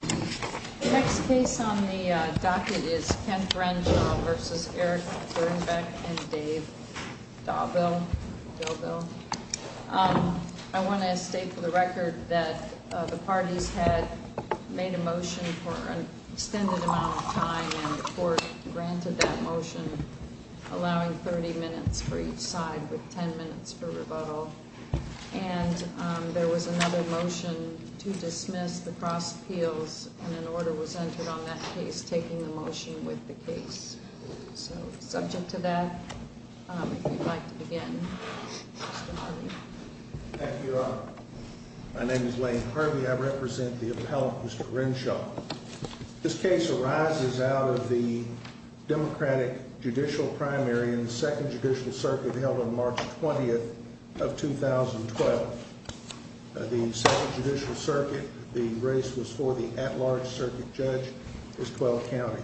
The next case on the docket is Kent Renshaw v. Dirnbeck and Dave Thaubill. I want to state for the record that the parties had made a motion for an extended amount of time, and the court granted that motion, allowing 30 minutes for each side with 10 minutes for rebuttal. And there was another motion to dismiss the cross appeals, and an order was entered on that case, taking the motion with the case. So, subject to that, I'd like to begin. Thank you, Your Honor. My name is Lane Harvey. I represent the appellant, Mr. Renshaw. This case arises out of the Democratic judicial primary in the Second Judicial Circuit held on March 20th of 2012. At the Second Judicial Circuit, the race was for the at-large circuit judge in 12 counties.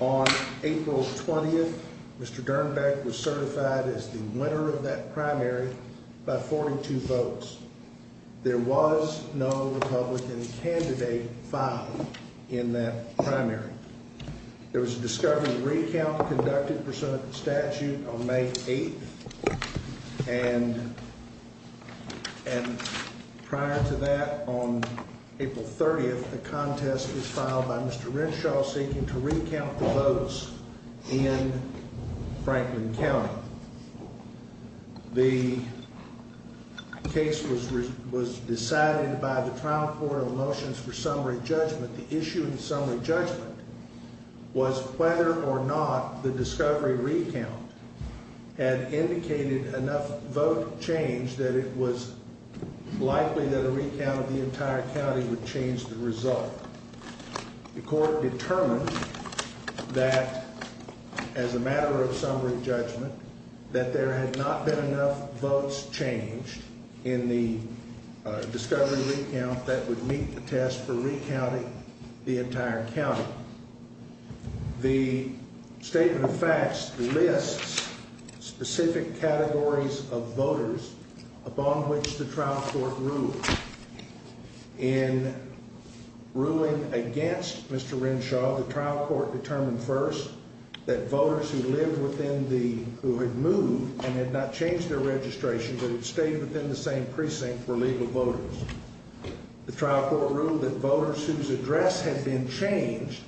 On April 20th, Mr. Dirnbeck was certified as the winner of that primary by 42 votes. There was no Republican candidate filed in that primary. There was a discovery recount conducted for some of the statute on May 8th, and prior to that, on April 30th, a contest was filed by Mr. Renshaw seeking to recount the votes in Franklin County. The case was decided by the trial court on motions for summary judgment. The issue in summary judgment was whether or not the discovery recount had indicated enough vote change that it was likely that a recount of the entire county would change the result. The court determined that, as a matter of summary judgment, that there had not been enough votes changed in the discovery recount that would meet the test for recounting the entire county. The statement of facts lists specific categories of voters upon which the trial court ruled. In ruling against Mr. Renshaw, the trial court determined first that voters who had moved and had not changed their registration but had stayed within the same precinct were legal voters. The trial court ruled that voters whose address had been changed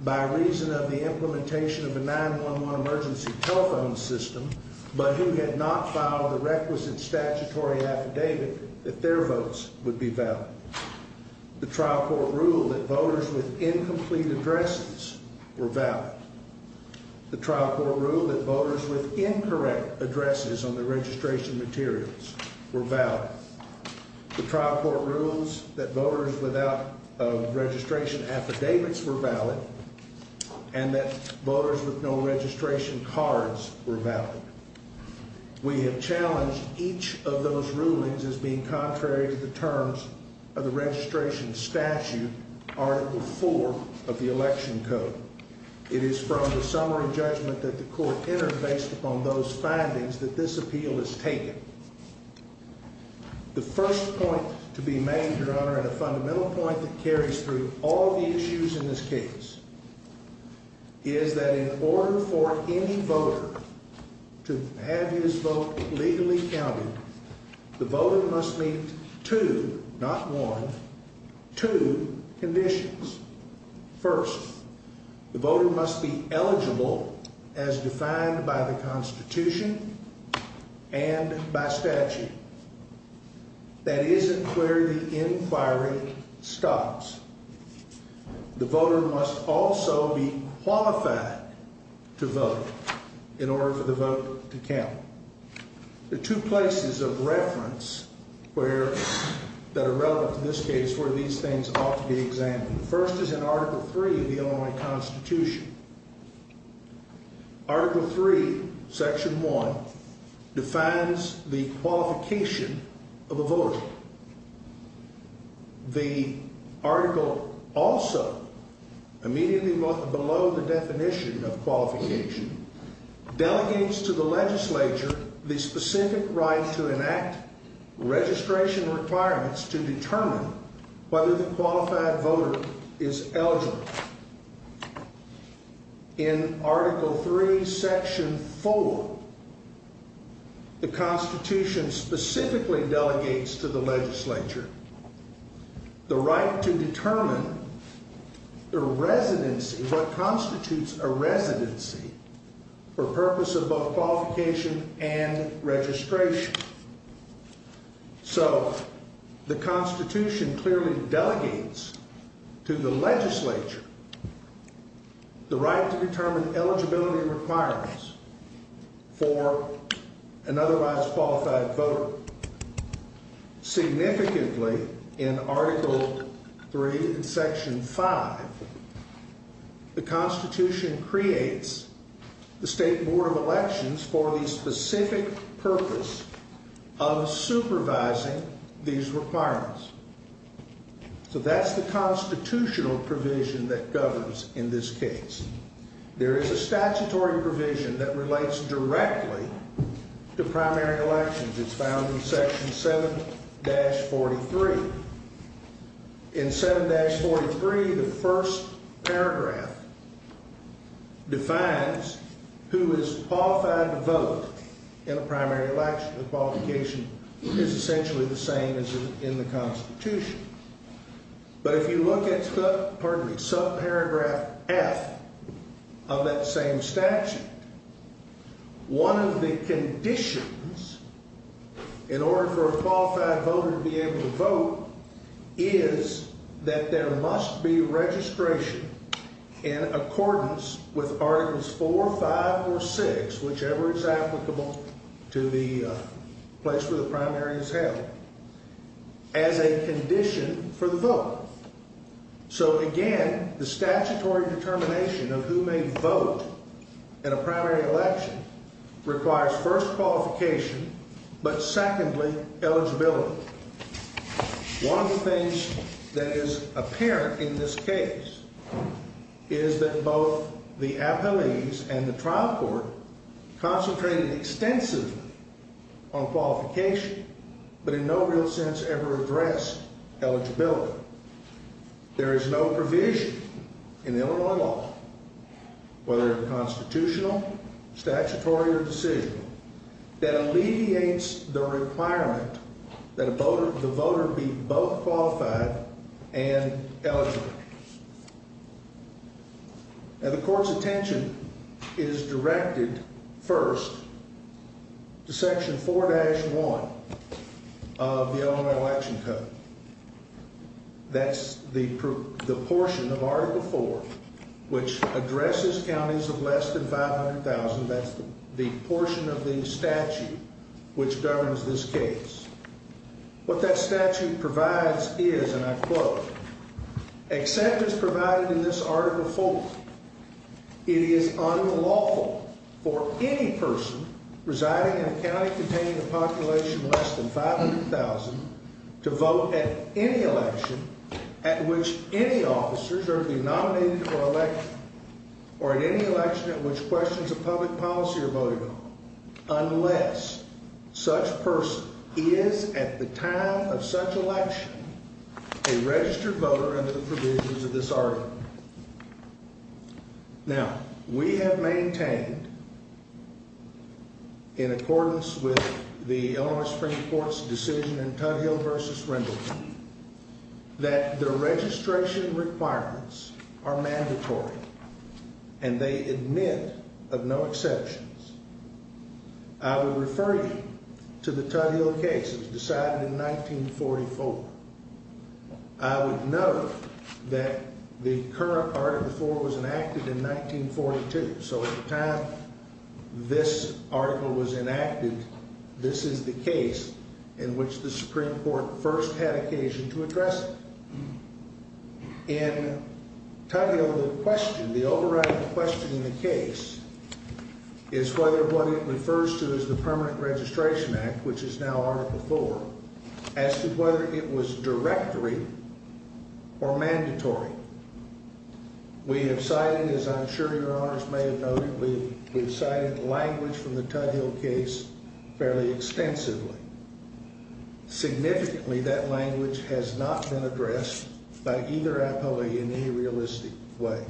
by reason of the implementation of the 911 emergency telephone system, but who had not filed a requisite statutory affidavit, that their votes would be valid. The trial court ruled that voters with incomplete addresses were valid. The trial court ruled that voters with incorrect addresses on the registration materials were valid. The trial court ruled that voters without registration affidavits were valid, and that voters with no registration cards were valid. We have challenged each of those rulings as being contrary to the terms of the registration statute, Article IV of the Election Code. It is from the summary judgment that the court entered based upon those findings that this appeal is taken. The first point to be made, Your Honor, and a fundamental point that carries through all the issues in this case, is that in order for any voter to have his vote legally counted, the voter must meet two, not one, two conditions. First, the voter must be eligible as defined by the Constitution and by statute. That isn't where the inquiry stops. The voter must also be qualified to vote in order for the vote to count. There are two places of reference that are relevant in this case where these things ought to be examined. The first is in Article III of the Illinois Constitution. Article III, Section 1, defines the qualification of a voter. The article also, immediately below the definition of qualification, delegates to the legislature the specific right to enact registration requirements to determine whether the qualified voter is eligible. In Article III, Section 4, the Constitution specifically delegates to the legislature the right to determine the residency, what constitutes a residency, for purposes of qualification and registration. So, the Constitution clearly delegates to the legislature the right to determine eligibility requirements for an otherwise qualified voter. Significantly, in Article III, Section 5, the Constitution creates the State Board of Elections for the specific purpose of supervising these requirements. So, that's the constitutional provision that governs in this case. There is a statutory provision that relates directly to primary elections. It's found in Section 7-43. In 7-43, the first paragraph defines who is qualified to vote in a primary election. The qualification is essentially the same as in the Constitution. But if you look at sub-paragraph F of that same statute, one of the conditions in order for a qualified voter to be able to vote is that there must be registration in accordance with Articles 4, 5, or 6, whichever is applicable to the place where the primary is held. As a condition for the vote. So, again, the statutory determination of who may vote in a primary election requires first, qualification, but secondly, eligibility. One of the things that is apparent in this case is that both the appellees and the trial court concentrated extensively on qualification, but in no real sense ever addressed eligibility. There is no provision in Illinois law, whether it's constitutional, statutory, or decision, that alleviates the requirement that the voter be both qualified and eligible. And the court's attention is directed first to Section 4-1 of the Illinois Election Code. That's the portion of Article 4 which addresses counties of less than 500,000. That's the portion of the statute which governs this case. What that statute provides is, and I quote, "...except as provided in this Article 4, it is unlawful for any person residing in a county containing a population less than 500,000 to vote at any election at which any officers are denominated for election or at any election at which questions of public policy are voted on unless such person is, at the time of such election, a registered voter under the provisions of this Article." Now, we have maintained, in accordance with the Illinois Supreme Court's decision in Cuddhill v. Reynolds, that the registration requirements are mandatory and they admit of no exceptions. I would refer you to the Cuddhill case decided in 1944. I would note that the current Article 4 was enacted in 1942, so at the time this article was enacted, this is the case in which the Supreme Court first had occasion to address it. In Cuddhill, the question, the overriding question in the case is whether what it refers to as the Permanent Registration Act, which is now Article 4, as to whether it was directory or mandatory. We have cited, as I'm sure Your Honors may have noted, we have cited language from the Cuddhill case fairly extensively. Significantly, that language has not been addressed by either appellee in any realistic way.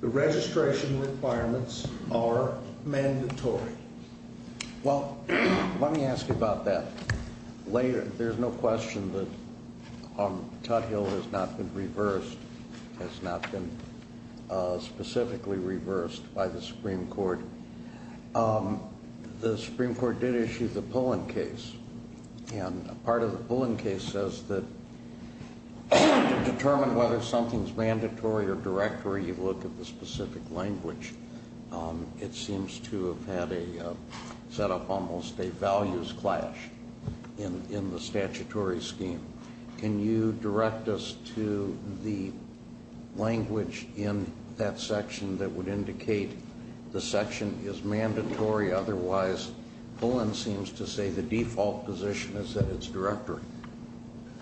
The registration requirements are mandatory. Well, let me ask you about that later. There's no question that Cuddhill has not been reversed, has not been specifically reversed by the Supreme Court. The Supreme Court did issue the Pullen case, and part of the Pullen case says that to determine whether something is mandatory or directory, you look at the specific language. It seems to have had a set up almost a values clash in the statutory scheme. Can you direct us to the language in that section that would indicate the section is mandatory? Otherwise, Pullen seems to say the default position is that it's directory.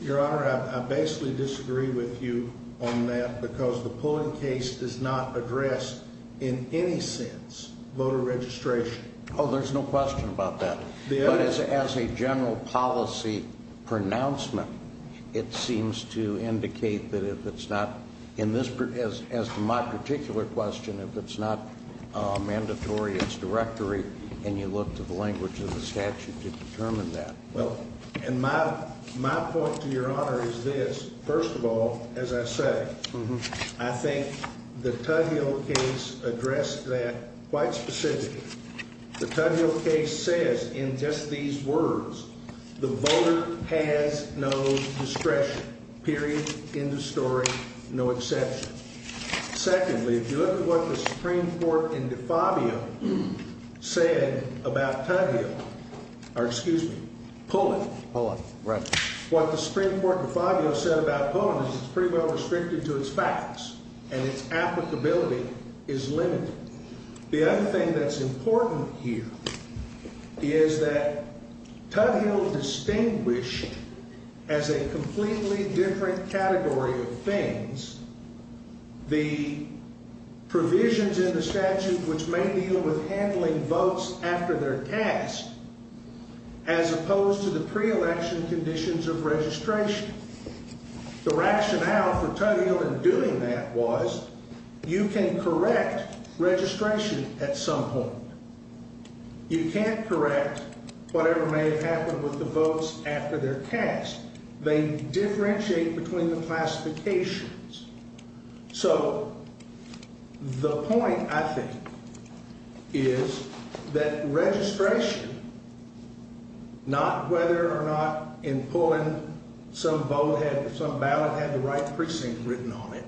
Your Honor, I basically disagree with you on that because the Pullen case does not address, in any sense, voter registration. Oh, there's no question about that. But as a general policy pronouncement, it seems to indicate that if it's not, as to my particular question, if it's not mandatory, it's directory, and you look to the language in the statute to determine that. And my point to Your Honor is this. First of all, as I said, I think the Cuddhill case addressed that quite specifically. The Cuddhill case says, in just these words, the voter has no discretion, period, end of story, no exception. Secondly, if you look at what the Supreme Court in DeFabio said about Cuddhill, or excuse me, Pullen, what the Supreme Court in DeFabio said about Pullen is it's pretty well restricted to its facts, and its applicability is limited. The other thing that's important here is that Cuddhill distinguished, as a completely different category of things, the provisions in the statute which may deal with handling votes after they're passed, as opposed to the pre-election conditions of registration. The rationale for Cuddhill in doing that was you can correct registration at some point. You can't correct whatever may have happened with the votes after they're passed. They differentiate between the classifications. So the point, I think, is that registration, not whether or not in Pullen some ballot had the right precinct written on it,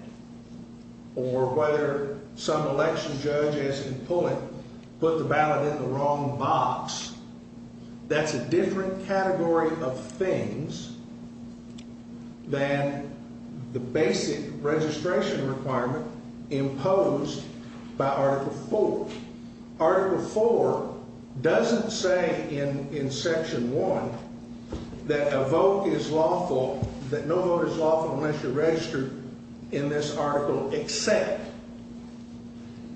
or whether some election judge, as in Pullen, put the ballot in the wrong box. That's a different category of things than the basic registration requirement imposed by Article IV. Article IV doesn't say in Section 1 that a vote is lawful, that no vote is lawful unless you're registered in this article, except.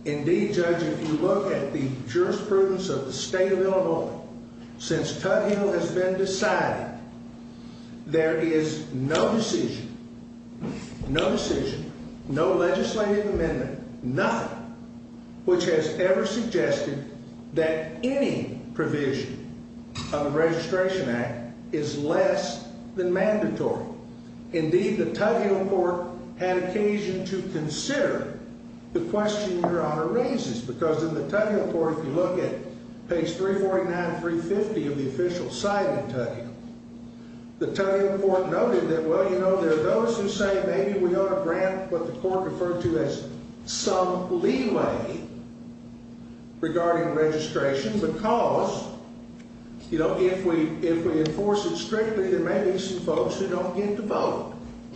Indeed, Judge, if you look at the jurisprudence of the state of Illinois, since Cuddhill has been decided, there is no decision, no decision, no legislative amendment, nothing, which has ever suggested that any provision of the Registration Act is less than mandatory. Indeed, the Cuddhill Court had occasion to consider the question Your Honor raises, because in the Cuddhill Court, if you look at page 349 and 350 of the official site of the Cuddhill, the Cuddhill Court noted that, well, you know, there are those who say, maybe we ought to grant what the court referred to as some leeway regarding registration, because, you know, if we enforce it strictly, there may be some folks who don't get to vote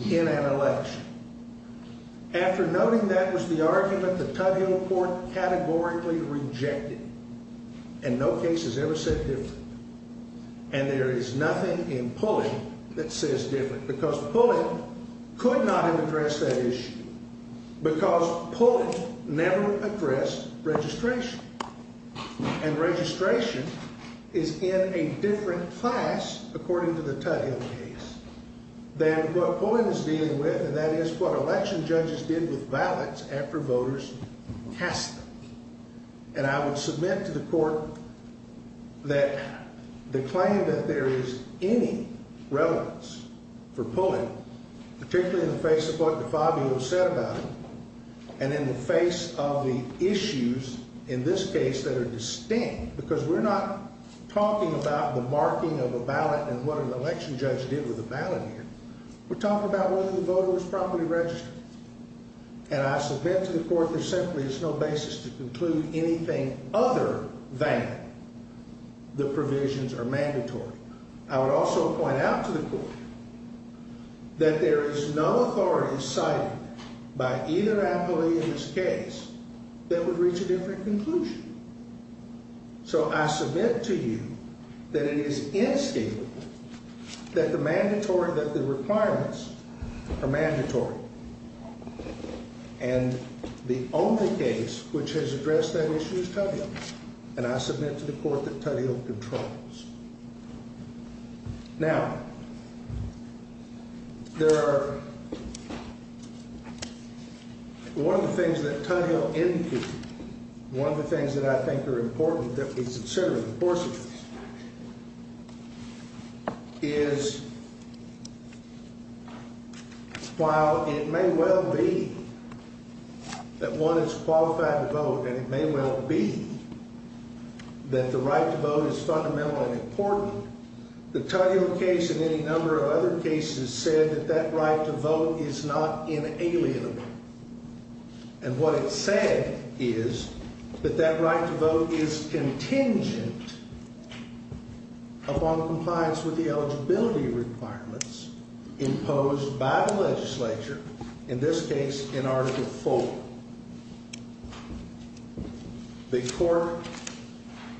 in an election. After noting that was the argument, the Cuddhill Court categorically rejected it, and no case has ever said that, and there is nothing in Pulley that says different, because Pulley could not have addressed that issue, because Pulley never addressed registration, and registration is in a different class, according to the Cuddhill case, than what Pulley was dealing with, and that is what election judges did with ballots after voters cast them. And I would submit to the court that the claim that there is any relevance for Pulley, particularly in the face of what DeFabio said about it, and in the face of the issues in this case that are distinct, because we're not talking about the marking of a ballot and what an election judge did with a ballot here, we're talking about whether the voter was properly registered, and I submit to the court that simply there's no basis to conclude anything other than the provisions are mandatory. I would also point out to the court that there is no authority cited by either act or either in this case that would reach a different conclusion, so I submit to you that it is instinctive that the mandatory, that the requirements are mandatory, and the only case which has addressed that issue is Cuddhill, and I submit to the court that Cuddhill controls. Now, there are, one of the things that Cuddhill indicated, one of the things that I think are important that needs to be considered in the course of this, is while it may well be that one is qualified to vote, or it may well be that the right to vote is fundamentally important, the Cuddhill case and any number of other cases said that that right to vote is not inalienable, and what it said is that that right to vote is contingent upon compliance with the eligibility requirements imposed by the legislature, in this case, in article four. The court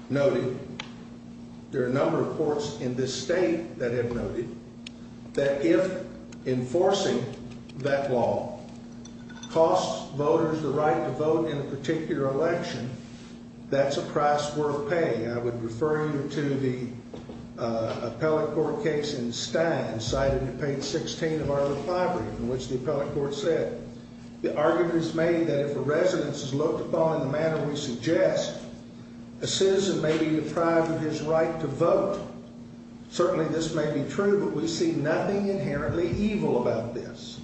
noted, there are a number of courts in this state that have noted, that if enforcing that law costs voters the right to vote in a particular election, that's a price worth paying. I would refer you to the appellate court case in Stein, cited in page 16 of our refinery, in which the appellate court said, the argument is made that if the residents look upon the manner we suggest, a citizen may be deprived of his right to vote. Certainly this may be true, but we see nothing inherently evil about this.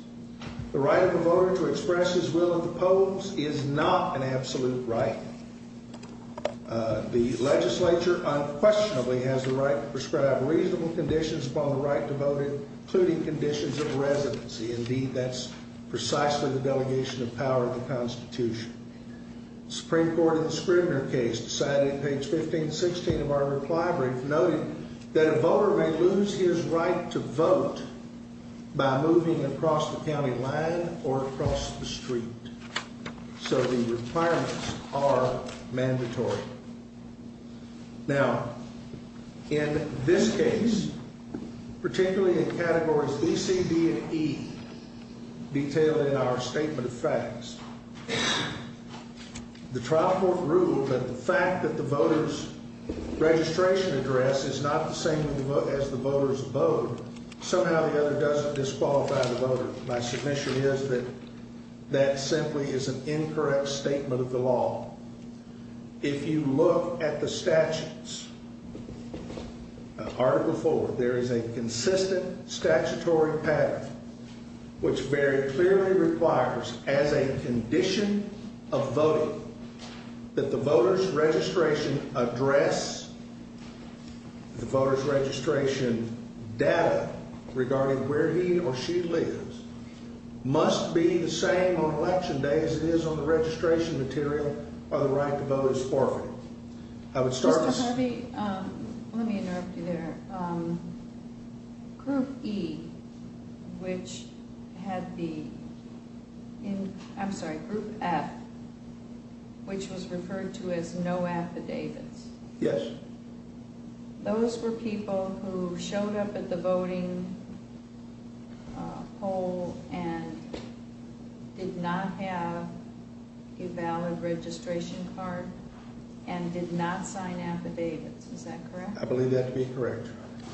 The right of a voter to express his will in the polls is not an absolute right. The legislature unquestionably has the right to prescribe reasonable conditions upon the right to vote, including conditions of residency. Indeed, that's precisely the delegation of power of the Constitution. The Supreme Court in the Scribner case, cited in page 1516 of our refinery, noted that a voter may lose his right to vote by moving across the county line or across the street. So the requirements are mandatory. Now, in this case, particularly in categories E, C, D, and E, detailed in our statement of facts, the trial court ruled that the fact that the voter's registration address is not the same as the voter's vote somehow or other doesn't disqualify the voter. My submission is that that simply is an incorrect statement of the law. If you look at the statutes, article four, there is a consistent statutory pattern which very clearly requires, as a condition of voting, that the voter's registration address, the voter's registration data regarding where he or she lives, must be the same on election day as it is on the registration material for the right to vote is forfeited. I would start with... Let me interrupt you there. Group E, which had the... I'm sorry, group F, which was referred to as no affidavits. Yes. Those were people who showed up at the voting poll and did not have a valid registration card and did not sign affidavits. Is that correct? I believe that to be correct.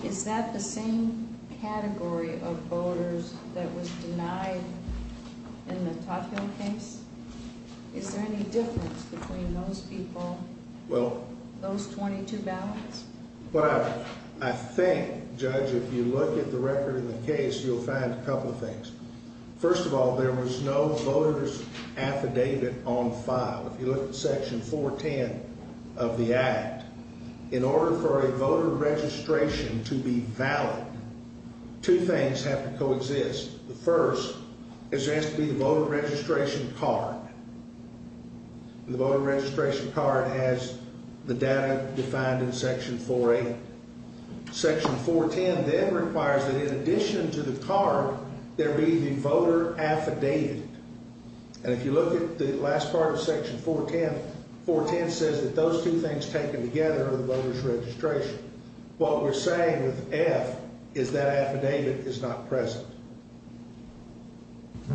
Is that the same category of voters that was denied in the top ten cases? Is there any difference between those people, those 22 ballots? Well, I think, Judge, if you look at the record of the case, you'll find a couple of things. First of all, there was no voters affidavit on file. If you look at Section 410 of the Act, in order for a voter registration to be valid, two things have to coexist. The first is there has to be a voter registration card. The voter registration card has the data defined in Section 480. Section 410 then requires that, in addition to the card, there be the voter affidavit. And if you look at the last part of Section 410, 410 says that those two things taken together are the voter's registration. What we're saying with the F is that affidavit is not present.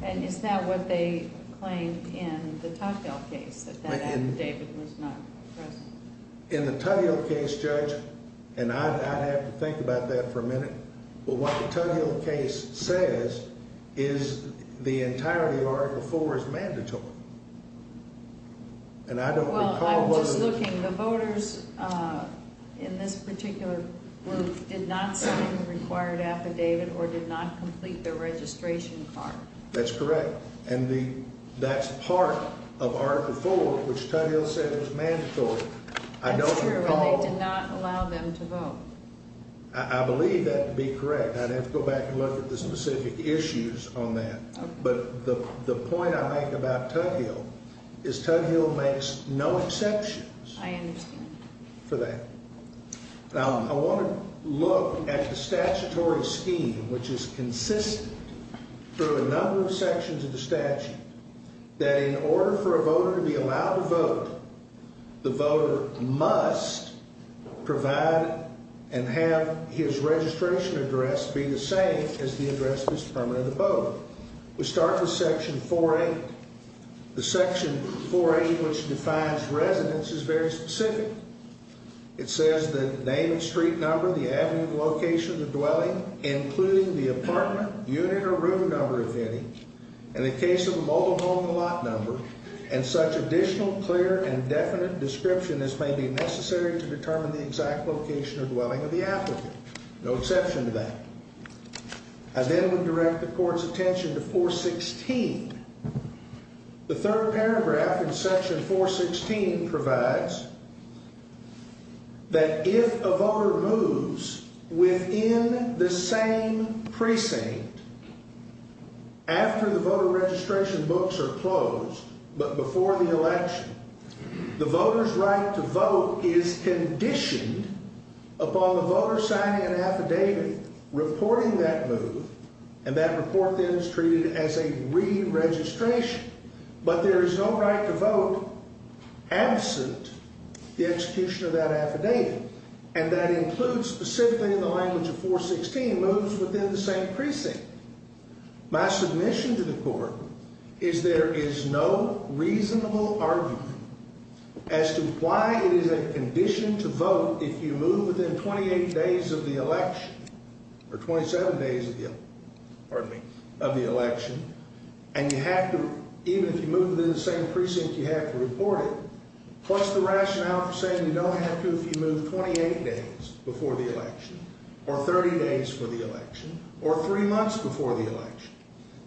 And it's not what they claimed in the Tuttle Hill case, that that affidavit was not present. In the Tuttle Hill case, Judge, and I have to think about that for a minute, but what the Tuttle Hill case says is the entirety of Article IV is mandatory. And I don't recall... Well, I was looking. The voters in this particular group did not claim an acquired affidavit or did not complete their registration card. That's correct. And that's part of Article IV, which Tuttle Hill says is mandatory. I don't recall... They did not allow them to vote. I believe that to be correct. I'd have to go back and look at the specific issues on that. But the point I make about Tuttle Hill is Tuttle Hill makes no exceptions for that. Now, I want to look at the statutory scheme, which is consistent through a number of sections of the statute, that in order for a voter to be allowed to vote, the voter must provide and have his registration address be the same as the address of his permanent voter. We start with Section 4A. The Section 4A, which defines residence, is very specific. It says that the name, street number, the avenue, location, dwelling, including the apartment, unit, or room number of any. And in the case of a mobile home, the lot number. And such additional, clear, and definite description as may be necessary to determine the exact location or dwelling of the applicant. No exception to that. I then would direct the Court's attention to 416. The third paragraph in Section 416 provides that if a voter moves within the same precinct after the voter registration books are closed, but before the election, the voter's right to vote is conditioned upon the voter signing an affidavit reporting that move. And that report then is treated as a re-registration. But there is no right to vote absent the execution of that affidavit. And that includes, specifically in the language of 416, moves within the same precinct. My submission to the Court is there is no reasonable argument as to why it is a condition to vote if you move within 28 days of the election. Or 27 days of the election. And you have to, even if you move within the same precinct, you have to report it. Plus the rationale for saying you don't have to if you move 28 days before the election. Or 30 days before the election. Or three months before the election.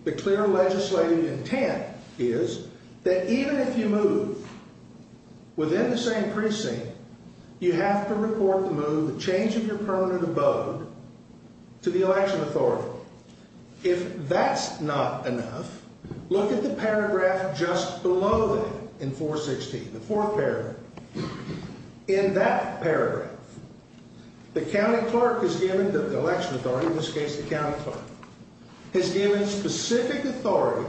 The clear legislative intent is that even if you move within the same precinct, you have to report the move of changing your permanent abode to the election authority. If that's not enough, look at the paragraph just below that in 416. The fourth paragraph. In that paragraph, the county clerk has given the election authority, in this case the county clerk, has given specific authority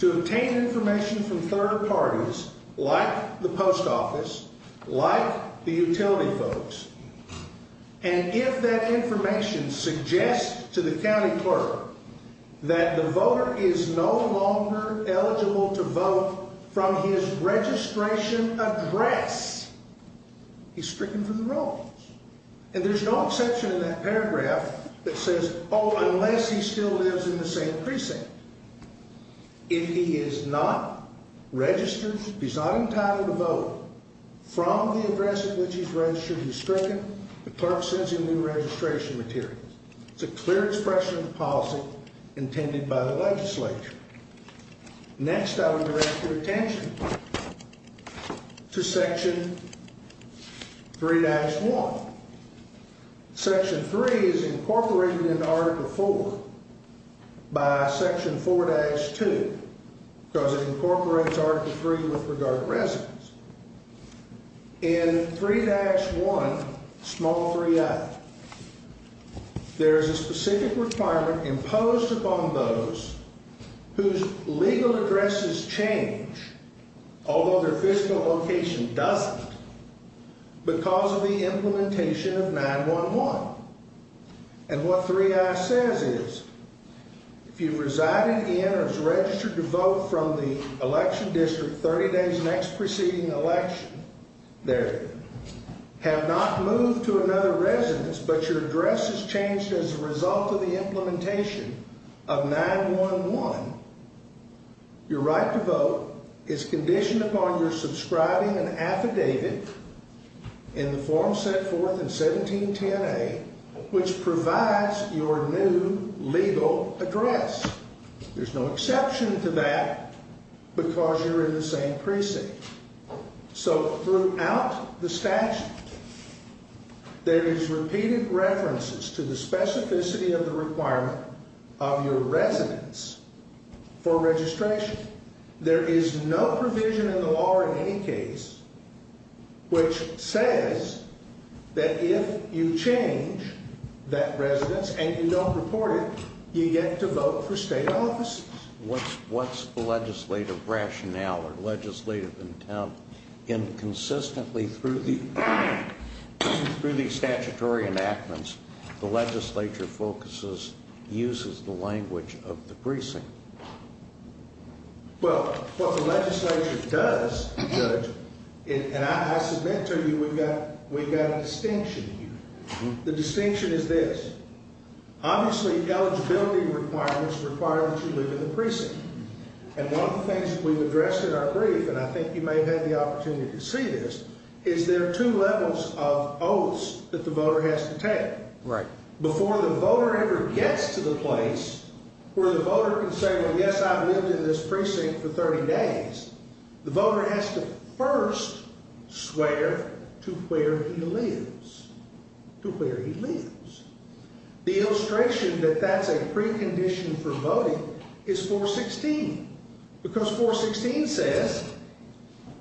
to obtain information from third parties like the post office, like the utility folks. And if that information suggests to the county clerk that the voter is no longer eligible to vote from his registration address, he's stricken from the role. And there's no exception in that paragraph that says, oh, unless he still lives in the same precinct. If he is not registered, he's not entitled to vote from the address in which he's registered, he's stricken. The clerk sends him new registration material. It's a clear expression of the policy intended by the legislature. Next, I would direct your attention to section 3-1. Section 3 is incorporated in Article 4 by Section 4-2 because it incorporates Article 3 with regard to residence. In 3-1, small 3i, there is a specific requirement imposed upon those whose legal address has changed, although their fiscal location doesn't, because of the implementation of 9-1-1. And what 3i says is, if you're residing in or registered to vote from the election district 30 days next preceding election, there, have not moved to another residence, but your address has changed as a result of the implementation of 9-1-1, your right to vote is conditioned upon your subscribing and affidavit in Form 74-1710A, which provides your new legal address. There's no exception to that because you're in the same precinct. So throughout the statute, there is repeated references to the specificity of the requirement of your residence for registration. There is no provision in the law in any case which says that if you change that residence and you don't report it, you get to vote for state offices. What's the legislative rationale or legislative intent in consistently, through the statutory enactments, the legislature focuses, uses the language of the precinct? Well, what the legislature does, and I suspect we've got a distinction here. The distinction is this. Obviously, the eligibility requirements require that you live in the precinct. And one of the things that we've addressed in our brief, and I think you may have had the opportunity to see this, is there are two levels of oaths that the voter has to take. Before the voter ever gets to the place where the voter can say, well, yes, I've lived in this precinct for 30 days, the voter has to first swear to where he lives, to where he lives. The illustration that that's a precondition for voting is 416. Because 416 says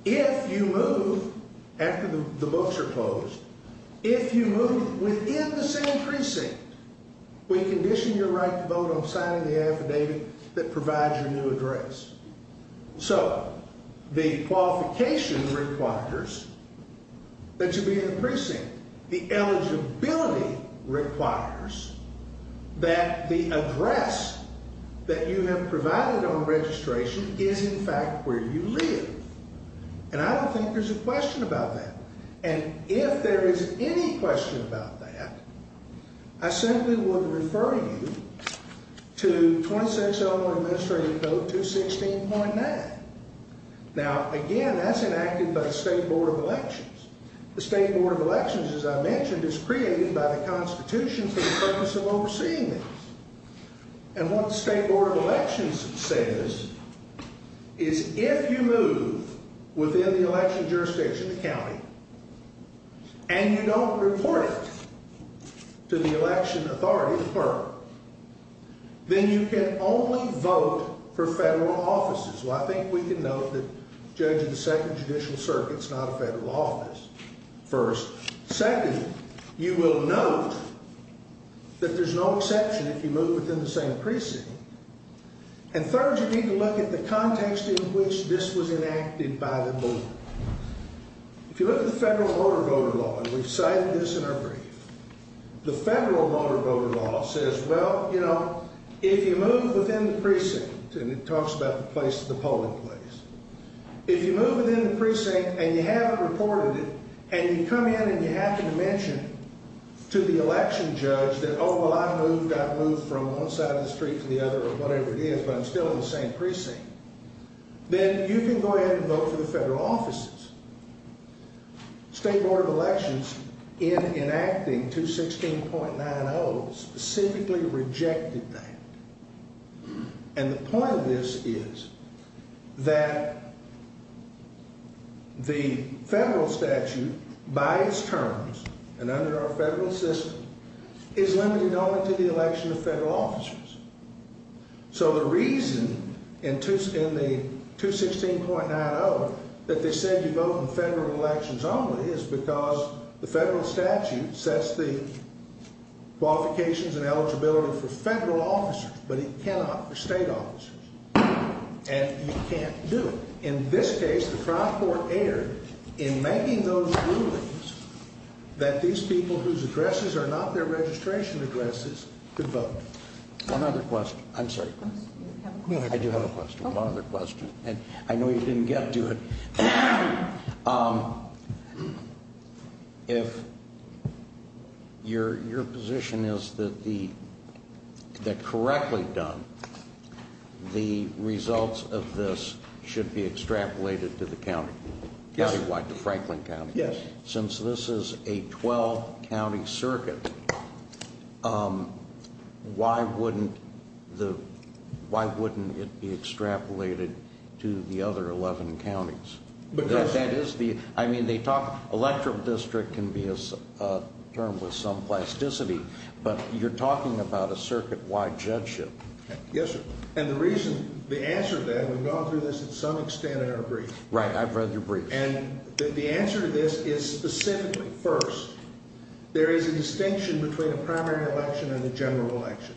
if you move, after the votes are closed, if you move within the same precinct, we condition your right to vote on signing the affidavit that provides your new address. So, the qualification requires that you be in the precinct. The eligibility requires that the address that you have provided on registration is, in fact, where you live. And I don't think there's a question about that. And if there is any question about that, I simply would refer you to 26 Eleanor Administrative Code 216.9. Now, again, that's enacted by the State Board of Elections. The State Board of Elections, as I mentioned, is created by the Constitution for the purpose of overseeing it. And what the State Board of Elections says is if you move within the election jurisdictions of the county and you don't report it to the election authority's firm, then you can only vote for federal offices. Well, I think we can note that, judging the Second Judicial Circuit, it's not a federal office, first. Second, you will note that there's no exception if you move within the same precinct. And third, you need to look at the context in which this was enacted by the board. If you look at the Federal Voter Voter Law, and we've cited this in our brief, the Federal Voter Voter Law says, well, you know, if you move within the precinct, and it talks about the polling place, if you move within the precinct and you haven't reported it, and you come in and you have to mention to the election judge that, oh, well, I know you got moved from one side of the street to the other or whatever it is, but I'm still in the same precinct, then you can go ahead and vote for the federal offices. The State Board of Elections, in enacting 216.90, specifically rejected that. And the point of this is that the federal statute, by its terms and under our federal system, is limited only to the election of federal offices. So the reason in the 216.90 that they said you vote in federal elections only is because the federal statute sets the qualifications and eligibility for the federal office, but it cannot for state offices. And you can't do it. In this case, the trial court erred in making those rulings that these people whose addresses are not their registration addresses could vote. One other question. I'm sorry. I do have a question. One other question. I know you didn't get to it. If your position is that correctly done, the results of this should be extrapolated to the county, the Franklin County. Yes. Since this is a 12-county circuit, why wouldn't it be extrapolated to the other 11 counties? I mean, they talk, elective district can be a term with some plasticity, but you're talking about a circuit-wide judgeship. Yes, and the reason, the answer to that, and we've gone through this to some extent, I don't agree. Right, I'd rather you agree. And the answer to this is specific. First, there is a distinction between a primary election and a general election.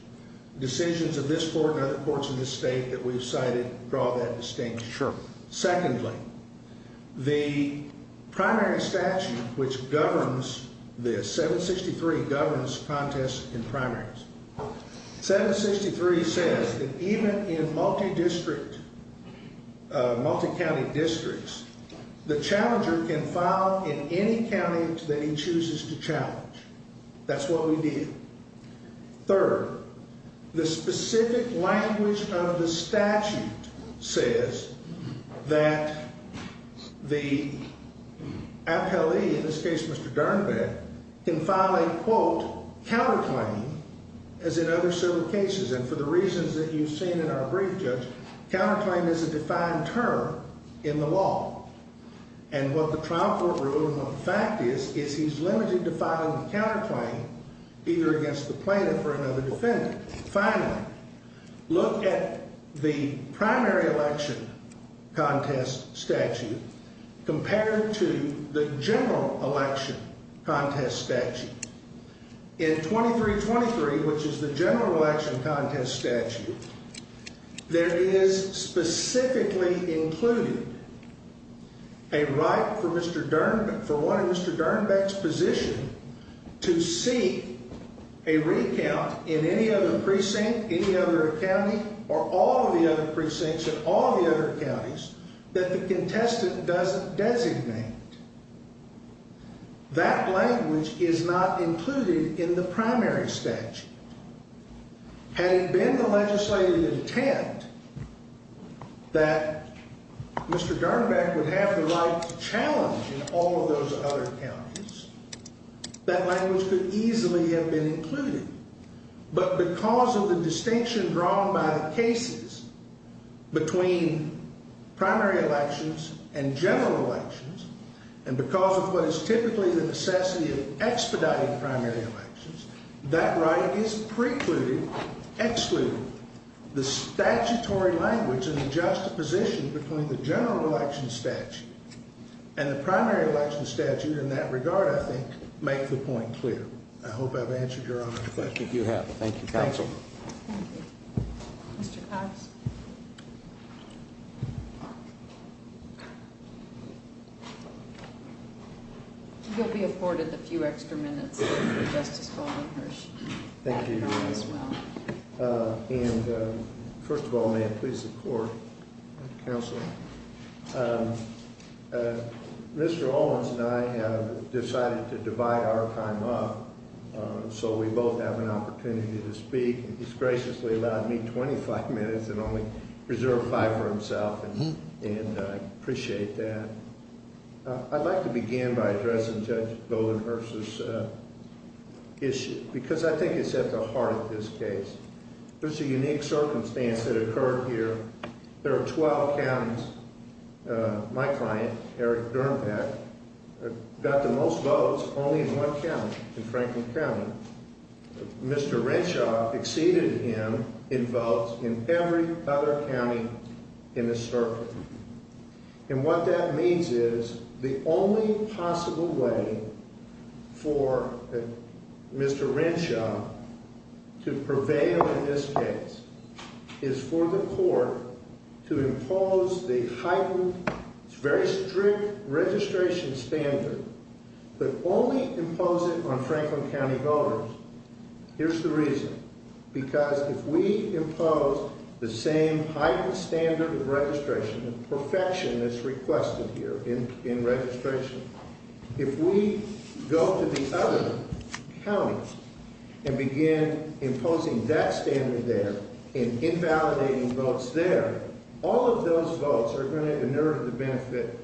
Decisions of this court and other courts in this state that we've cited draw that distinction. Sure. Secondly, the primary statute which governs this, 763, governs contest in primaries. 763 says that even in multi-district, multi-county districts, the challenger can file in any county that he chooses to challenge. That's what we did. Third, the specific language of the statute says that the appellee, in this case Mr. Garneva, can file a, quote, counterclaim, as in other circuit cases. And for the reasons that you've seen in our brief, Judge, counterclaim is a defined term in the law. And what the trial court rule of the fact is, is he's limited to filing a counterclaim, either against the plaintiff or another defendant. Finally, look at the primary election contest statute compared to the general election contest statute. In 2323, which is the general election contest statute, there is specifically included a right for Mr. Dernbeck, for one, Mr. Dernbeck's position, to seek a recount in any other precinct, any other county, or all the other precincts of all the other counties, that the contestant doesn't designate. That language is not included in the primary statute. Had it been the legislative intent that Mr. Dernbeck would have the right to challenge in all of those other counties, that language could easily have been included. But because of the distinction drawn by the cases between primary elections and general elections, and because of what is typically the necessity of expediting primary elections, that right is precluded, excluded. The statutory language and the juxtaposition between the general election statute and the primary election statute in that regard, I think, make the point clear. I hope I've answered your question. You have. Thank you, counsel. Thank you. Mr. Cox? You'll be afforded a few extra minutes. Thank you. And, first of all, may I please support my counsel? Mr. Owens and I have decided to divide our time up, so we both have an opportunity to speak. And disgracefully, he allowed me 25 minutes and only preserved five for himself. And I appreciate that. I'd like to begin by addressing Judge Goldenberg's issue, because I think it's at the heart of this case. There's a unique circumstance that occurred here. There are 12 counties. My client, Eric Dermack, got the most votes only in one county, in Franklin County. Mr. Renshaw exceeded him in votes in every other county in this circuit. And what that means is the only possible way for Mr. Renshaw to prevail in this case is for the court to impose the heightened, very strict registration standard, but only impose it on Franklin County voters. Here's the reason. Because if we impose the same heightened standard of registration perfection that's requested here in registration, if we go to the other counties and begin imposing that standard there and invalidating votes there, all of those votes are going to inure the benefit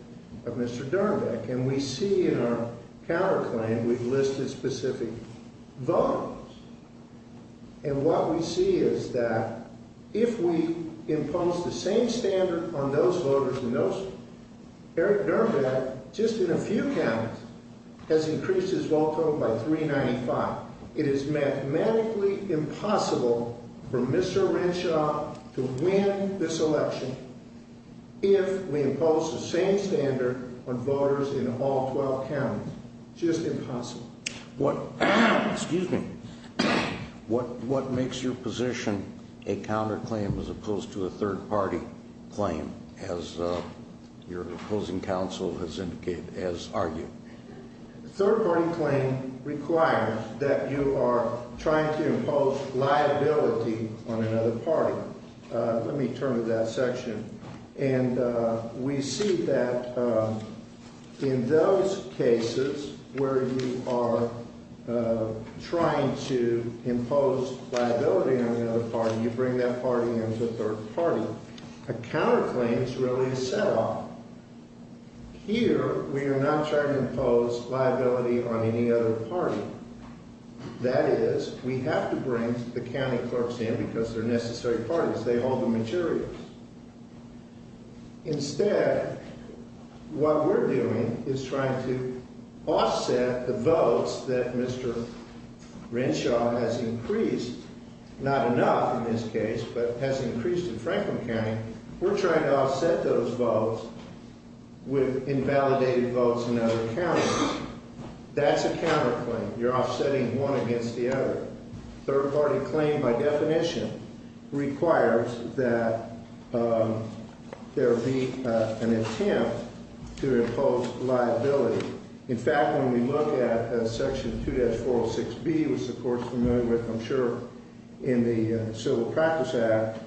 of Mr. Dermack. And we see in our power claim we've listed specific voters. And what we see is that if we impose the same standard on those voters in those counties, Eric Dermack, just in a few counties, has increased his vote total by 395. It is mathematically impossible for Mr. Renshaw to win this election if we impose the same standard on voters in all 12 counties. Just impossible. What makes your position a counterclaim as opposed to a third-party claim, as your opposing counsel has argued? A third-party claim requires that you are trying to impose liability on another party. Let me turn to that section. And we see that in those cases where you are trying to impose liability on another party, you bring that party into a third party. A counterclaim is really a set-off. Here, we are not trying to impose liability on any other party. That is, we have to bring the county clerks in because they're necessary parties. They hold the materials. Instead, what we're doing is trying to offset the votes that Mr. Renshaw has increased, not enough in this case, but has increased in Franklin County. We're trying to offset those votes with invalidated votes in other counties. That's a counterclaim. You're offsetting one against the other. A third-party claim, by definition, requires that there be an attempt to impose liability. In fact, when we look at Section 2-406B, which, of course, you remember from the Civil Practice Act,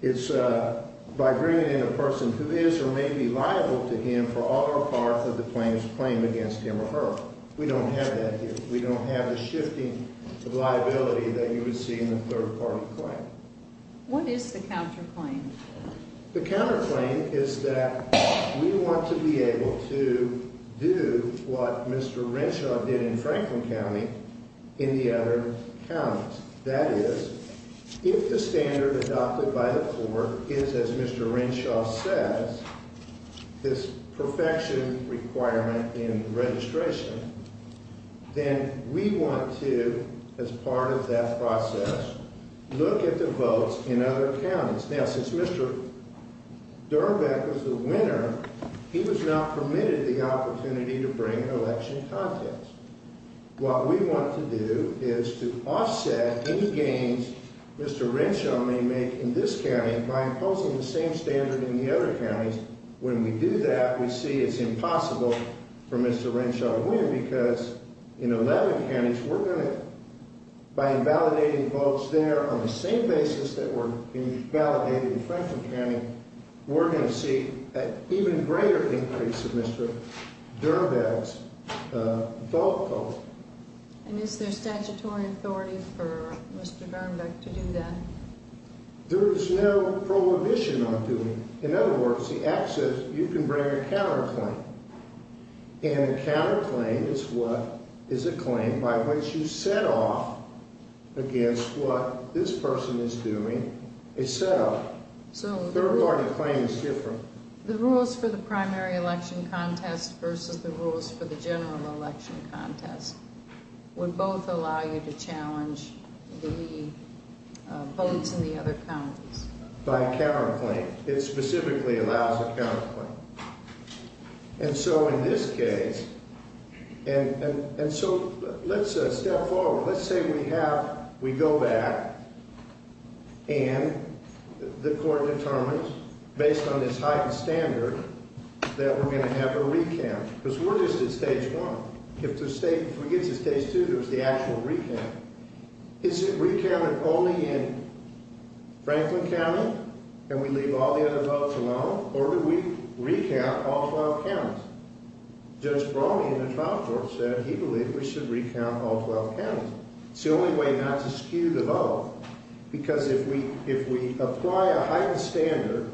it's by bringing in a person who is or may be liable to him for all or part of the claim's claim against him or her. We don't have that case. We don't have the shifting of liability that you would see in a third-party claim. What is the counterclaim? The counterclaim is that we want to be able to do what Mr. Renshaw did in Franklin County in the other counties. That is, if the standard adopted by the court is, as Mr. Renshaw says, this perfection requirement in registration, then we want to, as part of that process, look at the votes in other counties. Now, since Mr. Durbank was the winner, he was not permitted the opportunity to bring an election contest. What we want to do is to offset the gains Mr. Renshaw may make in this county, and by imposing the same standard in the other counties, when we do that, we see it's impossible for Mr. Renshaw to win because in 11 counties, we're going to, by invalidating votes there on the same basis that were invalidated in Franklin County, we're going to see an even greater increase in Mr. Durbank's vote votes. And is there statutory authority for Mr. Durbank to do that? There is no prohibition on doing it. In other words, the access, you can bring a counterclaim, and a counterclaim is a claim by which you set off against what this person is doing itself. Third-party claims differ. The rules for the primary election contest versus the rules for the general election contest would both allow you to challenge the lead votes in the other counties. By counterclaim. It specifically allows a counterclaim. And so in this case, and so let's step forward. Let's say we have, we go back, and the court determines, based on this heightened standard, that we're going to have a recamp. Because where is this stage one? If we get to stage two, there's the actual recamp. Is it recamped only in Franklin County? Can we leave all the other votes alone? Or would we recamp all 12 counties? Judge Bromley in the trial court said he believed we should recamp all 12 counties. It's the only way not to skew the vote. Because if we apply a higher standard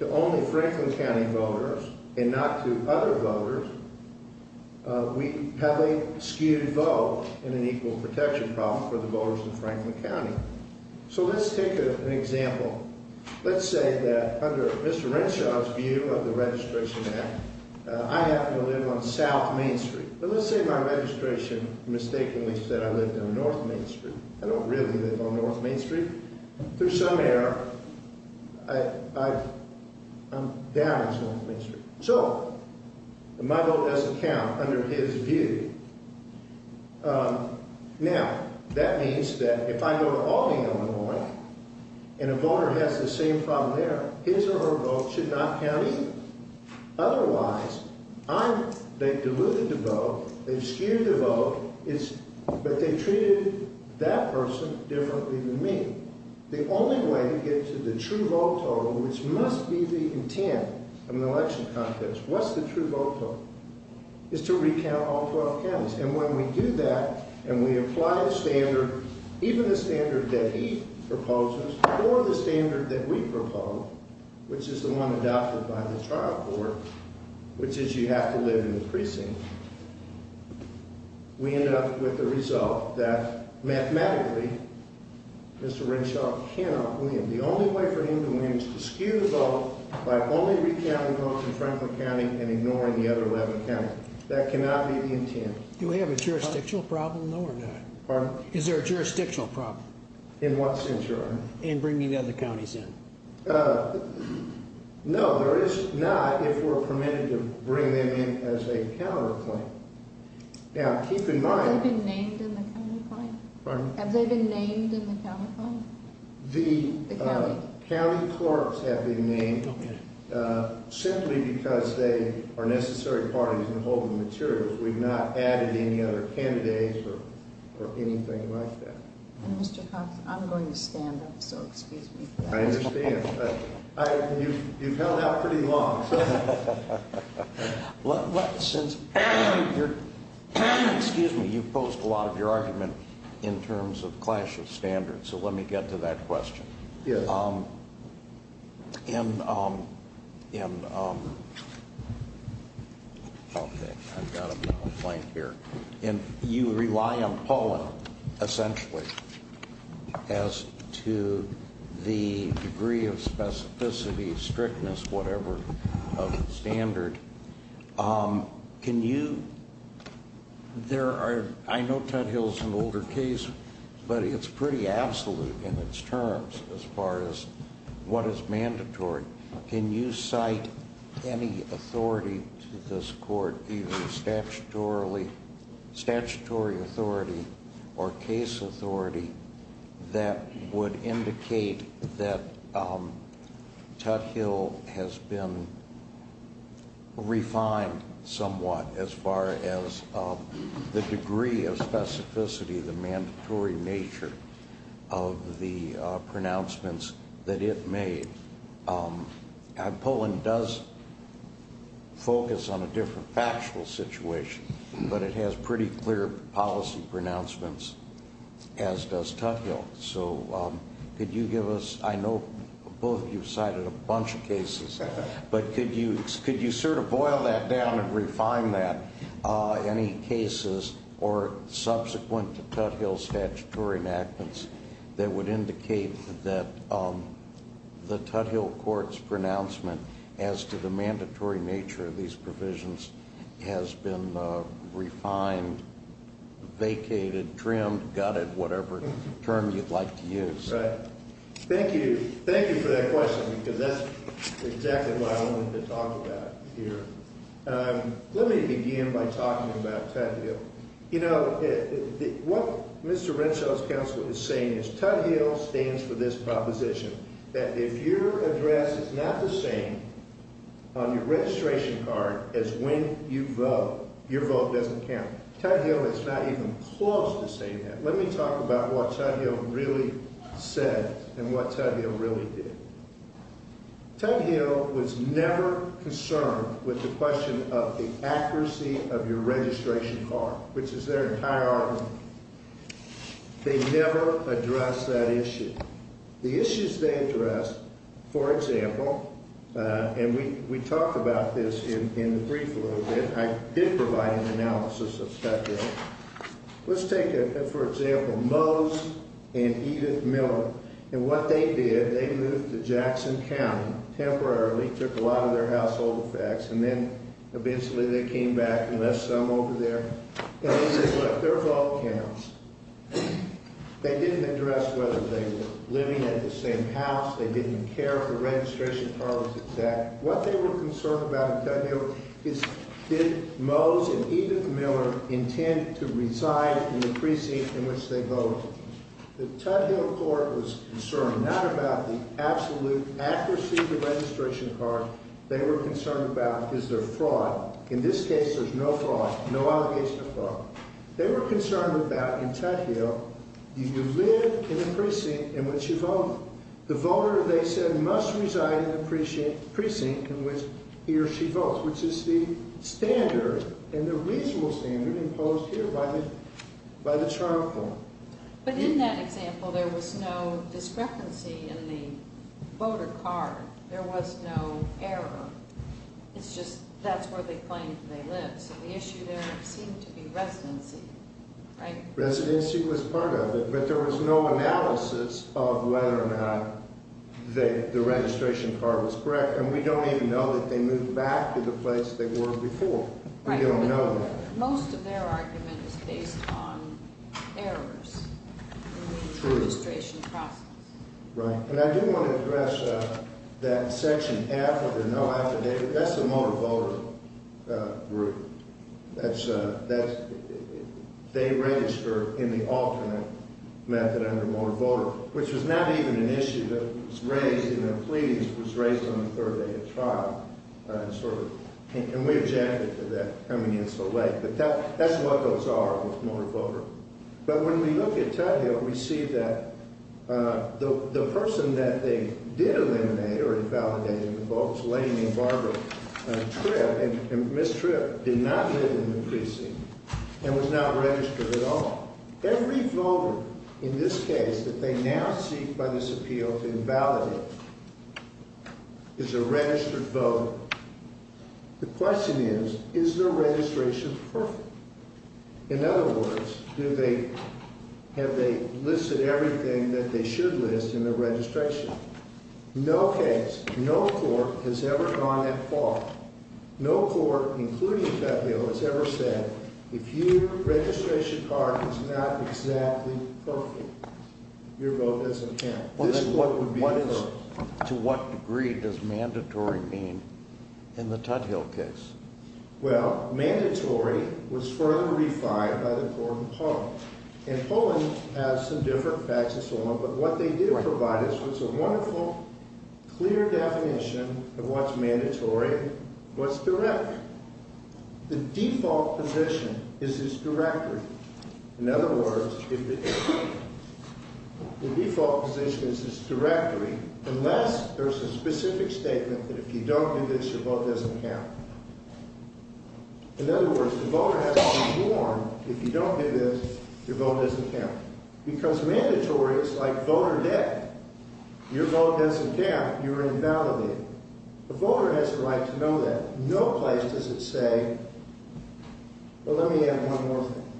to only Franklin County voters and not to other voters, have they skewed votes in an equal protection problem for the voters of Franklin County? So let's take an example. Let's say that under Mr. Renshaw's view of the registration act, I happen to live on South Main Street. But let's say my registration mistakenly said I lived on North Main Street. I don't really live on North Main Street. Through some error, I'm down on South Main Street. So, my vote doesn't count under his view. Now, that means that if I go to Albany, Illinois, and a voter has the same problem there, his or her vote should not count either. Otherwise, they've diluted the vote, they've skewed the vote, but they've treated that person differently than me. The only way to get to the true vote total, which must be the intent of an election contest, what's the true vote total, is to recamp all 12 counties. And when we do that, and we apply the standard, even the standard that he proposes, or the standard that we propose, which is the one adopted by the trial court, which is you have to live in the precinct, we end up with the result that mathematically, Mr. Renshaw cannot win. The only way for him to win is to skew the vote by only recounting votes in Franklin County and ignoring the other 11 counties. That cannot be the intent. Do we have a jurisdictional problem or not? Pardon? Is there a jurisdictional problem? In what sense, Your Honor? In bringing the other counties in. No, there is not, if we're permitted to bring them in as a counterclaim. Now, keep in mind... Have they been named in the county court? Pardon? Have they been named in the counterclaim? The county courts have been named simply because they are a necessary part of the compulsory material. We've not added any other candidates or anything like that. I'm going to stand up, so excuse me. I understand, but you've held out pretty long. Excuse me, you've posed a lot of your argument in terms of clashes standards, so let me get to that question. Yes. Okay, I've got a blank here. You rely on Paul, essentially, as to the degree of specificity, strictness, whatever, of the standard. I know Trenthill is an older case, but it's pretty absolute in its terms as far as what is mandatory. Can you cite any authority to this court, even statutory authority or case authority, that would indicate that Trenthill has been refined somewhat as far as the degree of specificity, the mandatory nature of the pronouncements that it made? Poland does focus on a different factual situation, but it has pretty clear policy pronouncements, as does Trenthill. I know both of you cited a bunch of cases, but could you sort of boil that down and refine that? Any cases or subsequent to Trenthill's statutory enactments that would indicate that the Trenthill court's pronouncement as to the mandatory nature of these provisions has been refined, vacated, trimmed, gutted, whatever term you'd like to use. Thank you for that question, because that's exactly what I wanted to talk about here. Let me begin by talking about Trenthill. You know, what Mr. Renshaw's counsel is saying is Trenthill stands for this proposition, that if your address is not the same on your registration card as when you vote, your vote doesn't count. Trenthill is not even close to saying that. Let me talk about what Trenthill really said and what Trenthill really did. Trenthill was never concerned with the question of the accuracy of your registration card, which is their entire argument. They never addressed that issue. The issues they addressed, for example, and we talked about this in the brief a little bit, I did provide an analysis of Trenthill. Let's take, for example, Mose and Edith Miller. And what they did, they moved to Jackson County temporarily, took a lot of their household effects, and then eventually they came back and left some over there. And this is what their vote counts. They didn't address whether they were living in the same house, they didn't care for registration cards, etc. What they were concerned about in Trenthill is did Mose and Edith Miller intend to reside in the precinct in which they voted. The Trenthill court was concerned not about the absolute accuracy of the registration card, they were concerned about is there fraud. In this case, there's no fraud, no allegations of fraud. They were concerned about, in Trenthill, you would live in a precinct in which you voted. The voter, they said, must reside in the precinct in which he or she votes, which is the standard and the regional standard imposed here by the Toronto court. But in that example, there was no discrepancy in the voter card. There was no error. It's just that's where they claimed they lived. The issue there seemed to be residency. Residency was part of it, but there was no analysis of whether or not the registration card was correct, and we don't even know that they moved back to the place they were before. We don't know that. Most of their argument is based on errors in the registration card. And I do want to address that section half of the no affidavit. That's the motor voter group. That's they raised her in the alternate method of the motor voter, which was not even an issue that was raised in their pleadings. It was raised on the third day of trial, and we objected to that coming in so late. But that's what those are with motor voter. But when we look at Tavio, we see that the person that they did eliminate or invalidated the votes, Lady and Barbara Tripp, and Ms. Tripp did not live in the precinct and was not registered at all. Every voter in this case that they now see by this appeal invalidated. It's a registered voter. The question is, is their registration perfect? In other words, have they listed everything that they should list in their registration? No case, no court has ever gone that far. No court, including Tavio, has ever said, if your registration card is not exactly perfect, your vote doesn't count. To what degree does mandatory mean in the Tavio case? Well, mandatory was further re-fired by the court in Poland. And Poland has some different facts as well, but what they did provide us was a wonderful, clear definition of what's mandatory, what's direct. The default position is it's directory. In other words, the default position is it's directory unless there's a specific statement that if you don't do this, your vote doesn't count. In other words, the voter has to be warned, if you don't do this, your vote doesn't count. Because mandatory is like voter debt. Your vote doesn't count, you're invalidated. The voter has the right to know that. No place does it say, well, let me add one more thing.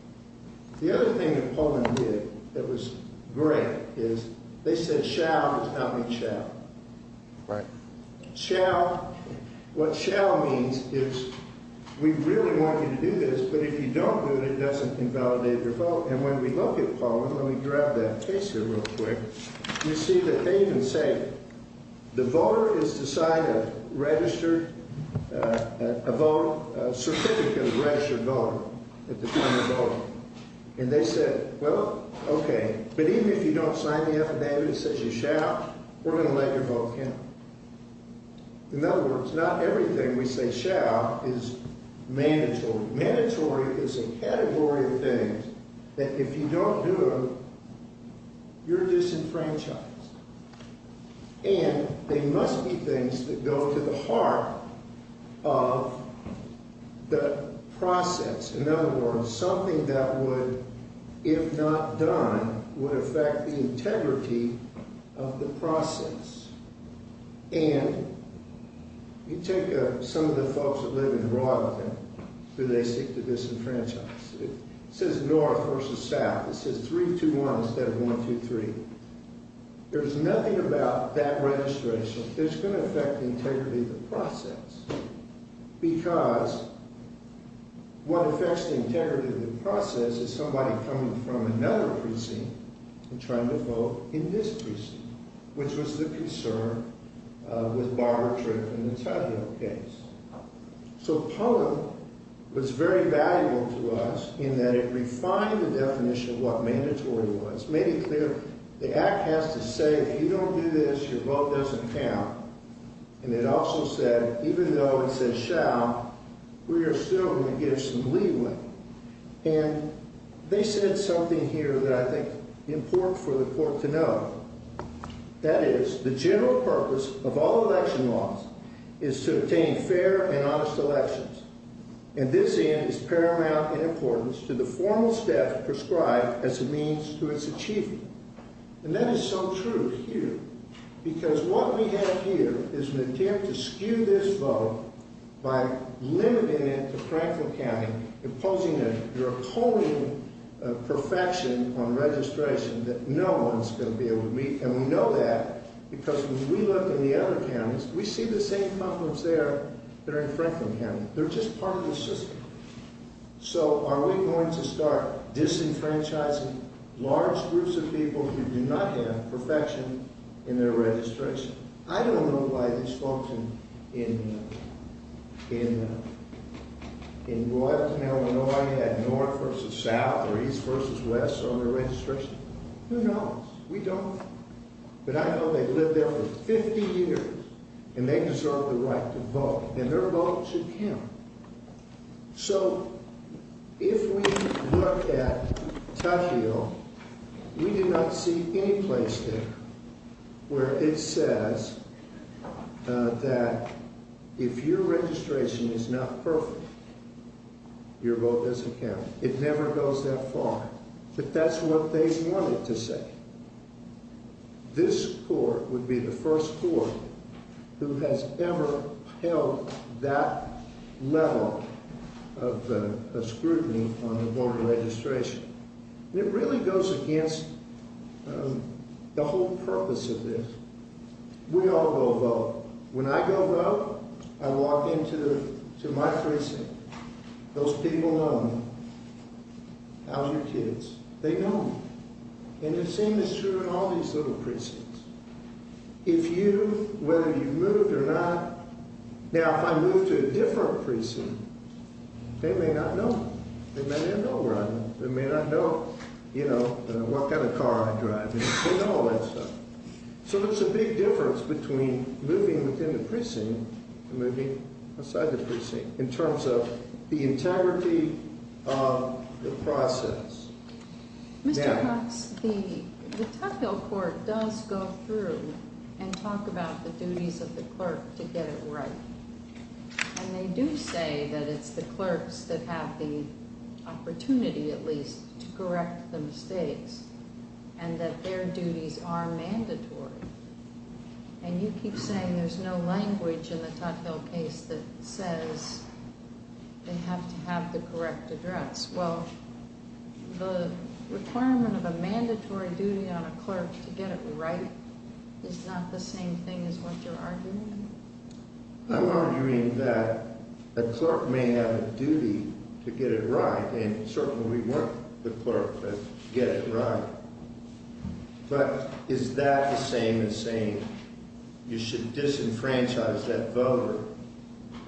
The other thing that Poland did that was great is they said, shall is counting shall. Shall, what shall means is we really want you to do this, but if you don't do it, it doesn't invalidate your vote. And when we look at Poland, let me grab that case here real quick, you see that they didn't say it. The voter is to sign a registered, a vote, a certificate of registered voter at the time of voting. And they said, well, okay. But even if you don't sign that, and they didn't say shall, we're going to let your vote count. In other words, not everything we say shall is mandatory. Mandatory is a category of things that if you don't do them, you're disenfranchised. And they must be things that go to the heart of the process. In other words, something that would, if not done, would affect the integrity of the process. And you take some of the folks that live in Royalty related to disenfranchised. It says North versus South. It says 3-2-1 instead of 1-2-3. There's nothing about that registration that's going to affect the integrity of the process. Because what affects the integrity of the process is somebody coming from another precinct and trying to vote in this precinct. Which was the concern with Barbara Tripp and the Tugwell case. So POTA was very valuable to us in that it refined the definition of what mandatory was. Made it clear, the act has to say if you don't do this, your vote doesn't count. And it also said, even though it says shall, we are still going to give some leeway. And they said something here that I think is important for the court to know. That is, the general purpose of all election laws is to obtain fair and honest elections. And this end is paramount in importance to the formal step prescribed as a means to its achievement. And that is so true of you. Because what we have here is an attempt to skew this vote by limiting it to Franklin County. Imposing a draconian perfection on registration that no one is going to be able to meet. And we know that because when we look in the other counties, we see the same problems there that are in Franklin County. They're just part of the system. So are we going to start disenfranchising large groups of people who do not have perfection in their registration? I don't know who I've spoken to in North, South, East versus West on their registration. Who knows? We don't. But I know they've lived there for 50 years. And they deserve the right to vote. And their vote should count. So if we look at Toshio, we do not see any place there where it says that if your registration is not perfect, your vote doesn't count. It never goes that far. But that's what they wanted to say. This court would be the first court who has ever held that level of scrutiny on the Board of Registration. It really goes against the whole purpose of this. We all go vote. When I go vote, I walk into my precinct. Those people know me. Founder kids. They know me. And the same is true in all these little precincts. If you, whether you move or not, now if I move to a different precinct, they may not know. They may not know where I am. They may not know that I walk out of the car, I'm driving. They know all that stuff. So there's a big difference between living within the precinct and living outside the precinct in terms of the integrity of the process. Mary? The Tuckville court does go through and talk about the duties of the clerk to get it right. And they do say that it's the clerks that have the opportunity, at least, to correct mistakes. And that their duties are mandatory. And you keep saying there's no language in the Tuckville case that says they have to have the correct address. Well, the requirement of a mandatory duty on a clerk to get it right is not the same thing as what you're arguing? I'm arguing that a clerk may have a duty to get it right, and certainly we want the clerk to get it right. But is that the same as saying you should disenfranchise that voter?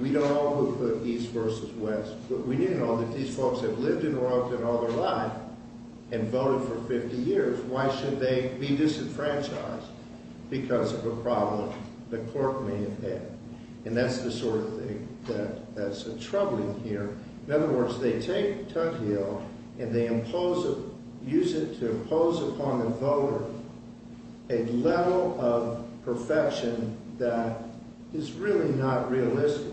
We don't know who put these verses west, but we do know that these folks have lived in Washington all their life and voted for 50 years. Why should they be disenfranchised? Because of a problem the clerk may have had. And that's the sort of thing that's troubling here. In other words, they take Tuckville and they use it to impose upon a voter a level of perfection that is really not realistic.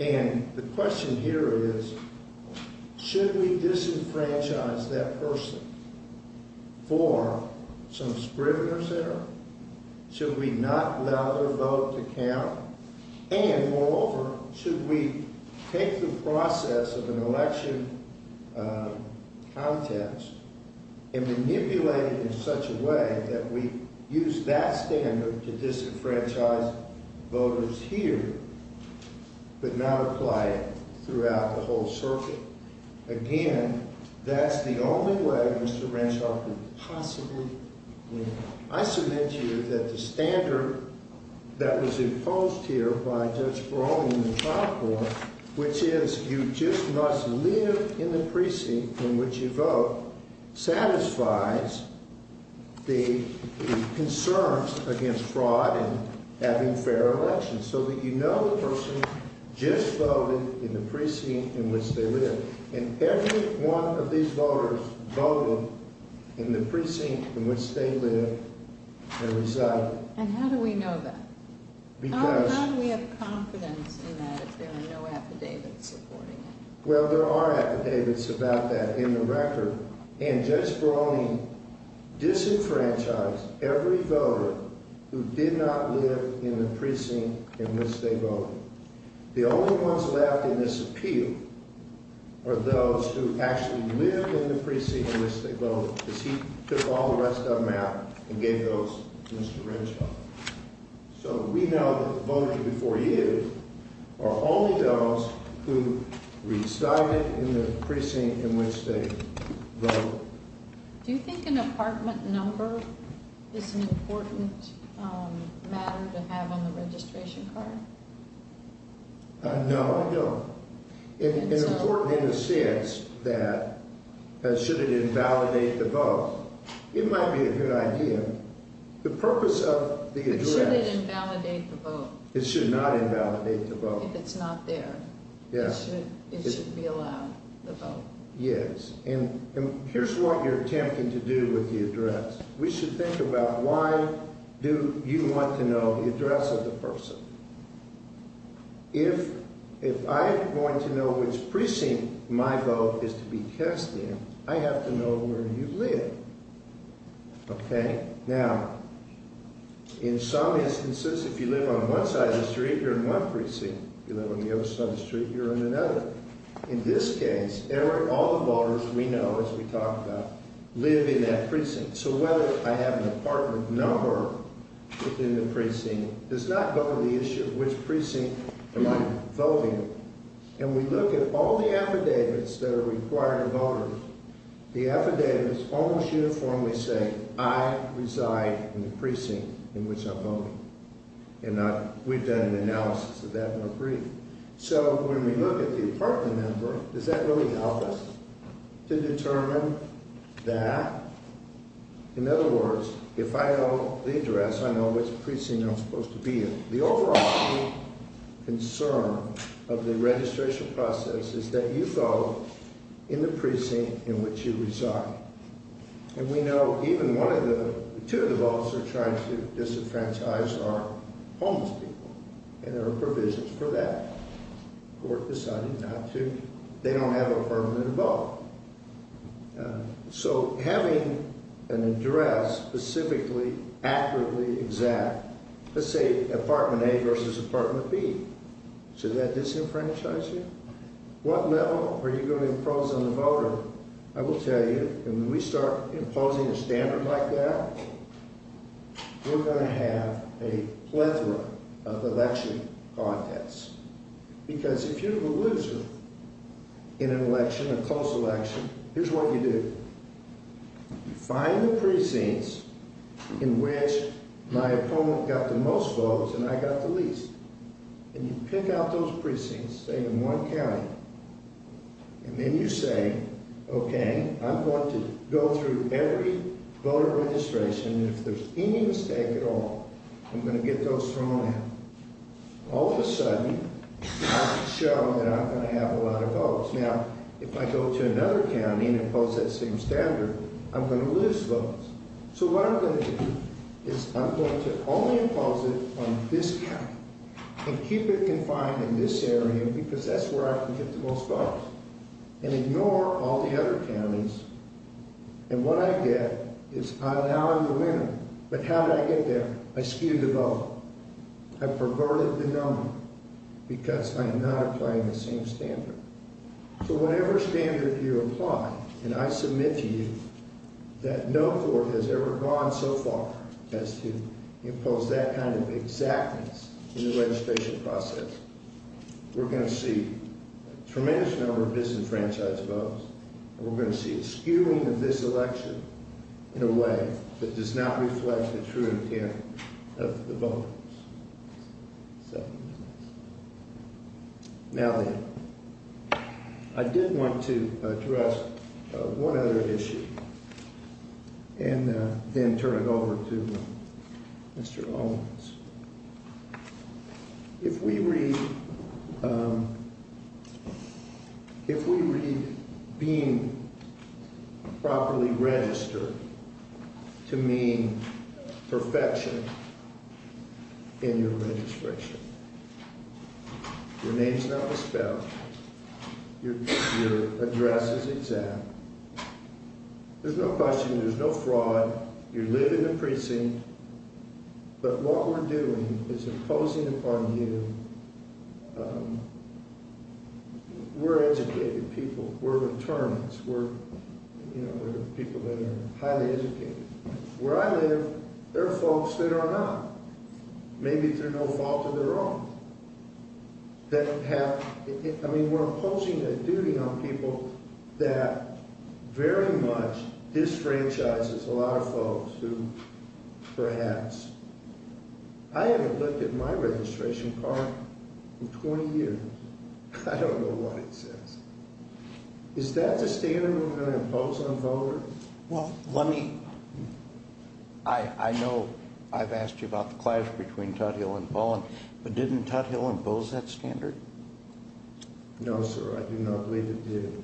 And the question here is, should we disenfranchise that person for some scrimmage error? Should we not allow their vote to count? And, moreover, should we take the process of an election contest and manipulate it in such a way that we use that standard to disenfranchise voters here but not apply it throughout the whole circuit? Again, that's the only way Mr. Randolph could possibly do it. I should mention that the standard that was imposed here by Judge Barone in the top court, which is you just must live in the precinct in which you vote, satisfies the concerns against fraud and having fair elections, so that you know the person just voted in the precinct in which they live. And every one of these voters voted in the precinct in which they live. And how do we know that? How do we have confidence in that if there are no affidavits reporting it? Well, there are affidavits about that in the record. And Judge Barone disenfranchised every voter who did not live in the precinct in which they voted. The only ones left in this appeal are those who actually lived in the precinct in which they voted, because he took all the rest of them out and gave those to Mr. Randolph. So we know that the voters before you are all those who reside in the precinct in which they vote. Do you think an apartment number is an important matter to have on the registration card? No, I don't. It's important in the sense that should it invalidate the vote, it might be a good idea. The purpose of the exemption... Should it invalidate the vote? It should not invalidate the vote. If it's not there, it should be allowed, the vote. Yes, and here's what we're attempting to do with the address. We should think about why do you want to know the address of the person? If I'm going to know which precinct my vote is to be tested, I have to know where you live. Okay? Now, in some instances, if you live on one side of the street, you're in one precinct. If you live on the other side of the street, you're in another. In this case, all the voters we know, as we talked about, live in that precinct. So whether I have an apartment number within the precinct does not go to the issue of which precinct am I voting. And we look at all the affidavits that are required of voters, the affidavits almost uniformly say, I reside in the precinct in which I'm voting. And we've done an analysis of that in the brief. So when we look at the apartment number, does that really help us to determine that? In other words, if I know the address, I know which precinct I'm supposed to be in. The overall concern of the registration process is that you vote in the precinct in which you reside. And we know even one of the two that are trying to disenfranchise are homeless people. And there are provisions for that. The court decided not to. They don't have an apartment to vote. So having an address specifically accurately exact, let's say apartment A versus apartment B, does that disenfranchise you? What level are you going to impose on the voter? I will tell you, when we start imposing a standard like that, we're going to have a plethora of election contests. Because if you lose in an election, a close election, here's what you do. You find the precincts in which my opponent got the most votes and I got the least. And you pick out those precincts, say in one county. And then you say, okay, I'm going to go through every voter registration. If there's any mistake at all, I'm going to get those from them. All of a sudden, I've shown that I'm going to have a lot of votes. Now, if I go to another county and impose that same standard, I'm going to lose votes. So what I'm going to do is I'm going to only impose it on this county. And keep it confined in this area because that's where I can get the most votes. And ignore all the other counties. And what I get is I'm out in the wind. But how did I get there? I skewed the vote. I perverted the number because I'm not trying the same standard. So whatever standard you're applying, and I submit to you that no court has ever gone so far as to impose that kind of exactness in the registration process, we're going to see a tremendous number of disenfranchised votes. And we're going to see a skewing of this election in a way that does not reflect the true intent of the voters. Now, I did want to address one other issue. And then turn it over to Mr. Lomax. If we read being properly registered to mean perfection in your registration, your name's not a spell. Your address is exact. There's no question. There's no fraud. You live in the precinct. But what we're doing is imposing upon you. We're educated people. We're attorneys. We're people that are highly educated. Where I live, there are folks that are not. Maybe they're no longer their own. I mean, we're imposing a duty on people that very much disenfranchises a lot of folks who perhaps... I haven't looked at my registration card in 20 years. I don't know what it says. Is that the standard we're going to impose on voters? Well, let me... I know I've asked you about the cliff between Tuthill and Bowen, but didn't Tuthill impose that standard? No, sir. I do not believe it did.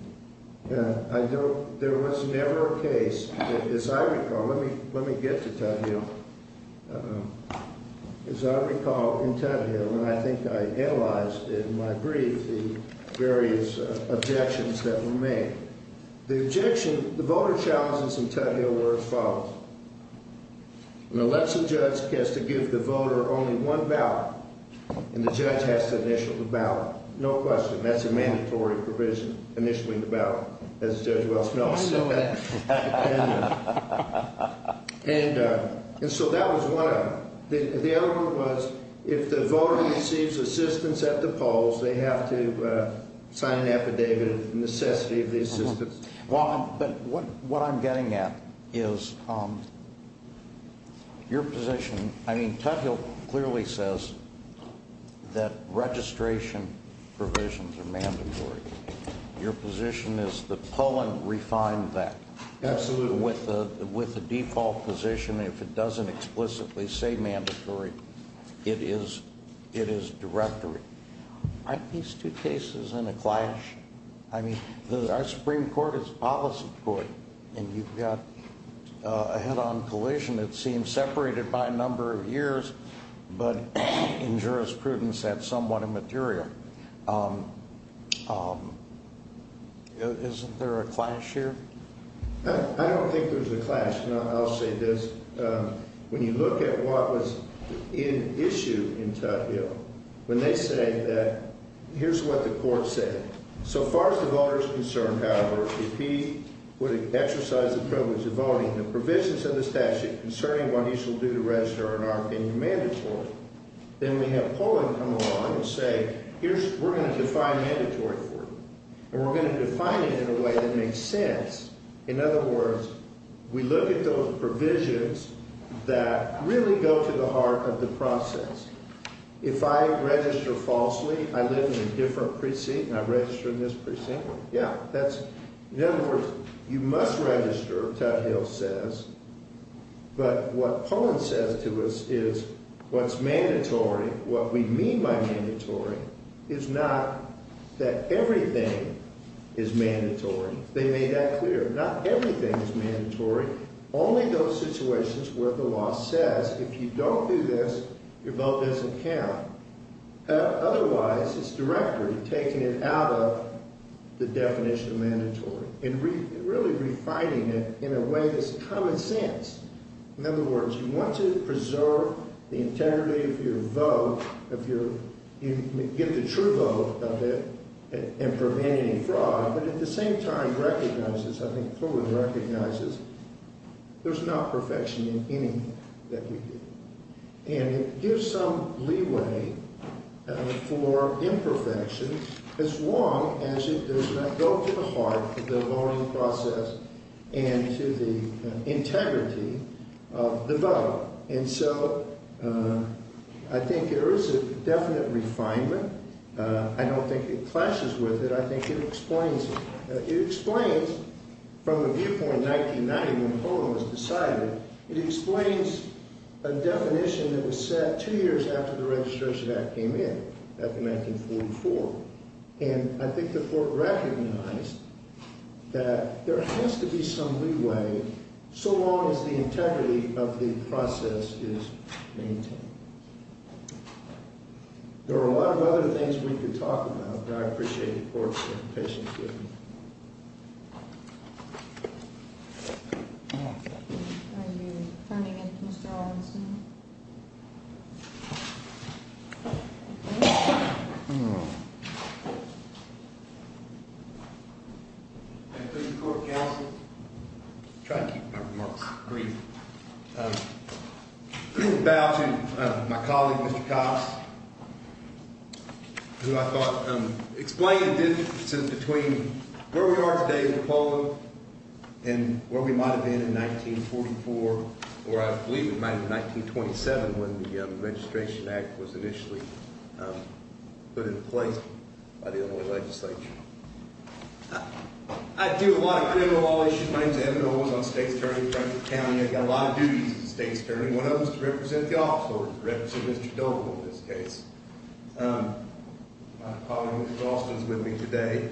I know there was never a case. As I recall, let me get to Tuthill. As I recall in Tuthill, and I think I analyzed it in my brief, the various objections that were made. The objection, the voter challenges in Tuthill were as follows. An election judge has to give the voter only one ballot, and the judge has to initiate the ballot. No question. That's a mandatory provision, initiating the ballot, as Judge Welch notes. And so that was one. The other one was if the voter receives assistance at the polls, they have to sign an affidavit in necessity of the assistance. But what I'm getting at is your position... I mean, Tuthill clearly says that registration provisions are mandatory. Your position is the polling refined that. Absolutely. With the default position, if it doesn't explicitly say mandatory, it is directory. Aren't these two cases in a clash? I mean, our Supreme Court is a policy court, and you've got a head-on collision that seems separated by a number of years, but in jurisprudence that's somewhat immaterial. Isn't there a clash here? I don't think there's a clash. I'll say this. When you look at what was in issue in Tuthill, when they say that here's what the court said, so far as the voter is concerned, however, if he were to exercise the privilege of voting, the provisions of the statute concerning what he shall do to register are not going to be mandatory. Then we have polling come along and say, we're going to define mandatory for him, and we're going to define it in a way that makes sense. In other words, we look at those provisions that really go to the heart of the process. If I register falsely, I live in a different precinct and I register in this precinct? Yeah. In other words, you must register, Tuthill says, but what polling says to us is what's mandatory, what we mean by mandatory is not that everything is mandatory. They made that clear. Not everything is mandatory. Only those situations where the law says if you don't do this, your vote doesn't count. Otherwise, it's directly taking it out of the definition of mandatory and really refining it in a way that's common sense. In other words, you want to preserve the integrity of your vote, you give the true vote of it in preventing fraud, but at the same time recognizes, I think polling recognizes, there's not perfection in anything that we do. And there's some leeway for imperfection as long as it does not go to the heart of the voting process and to the integrity of the vote. And so I think there is a definite refinement. I don't think it clashes with it. I think it explains it. It explains from the viewpoint of 1990 when polling was decided, it explains a definition that was set two years after the Registration Act came in, back in 1944. And I think that Fort recognized that there has to be some leeway so long as the integrity of the process is maintained. There are a lot of other things we could talk about, but I appreciate Fort's presentation. Thank you. Thank you, Court Counsel. I'm trying to keep my remarks brief. I'd like to bow to my colleague, Mr. Cox, who I thought explained the difference between where we are today with polling and where we might have been in 1944, or I believe it might have been 1927 when the Registration Act was initially put in place by the end of the legislature. I do a lot of criminal law issues. My name is Evan O'Rourke. I'm a state attorney in Franklin County. I've got a lot of duties as a state attorney. One of them is to represent the office, or to represent Mr. Goebel in this case. My colleague, Mr. Austin, is with me today.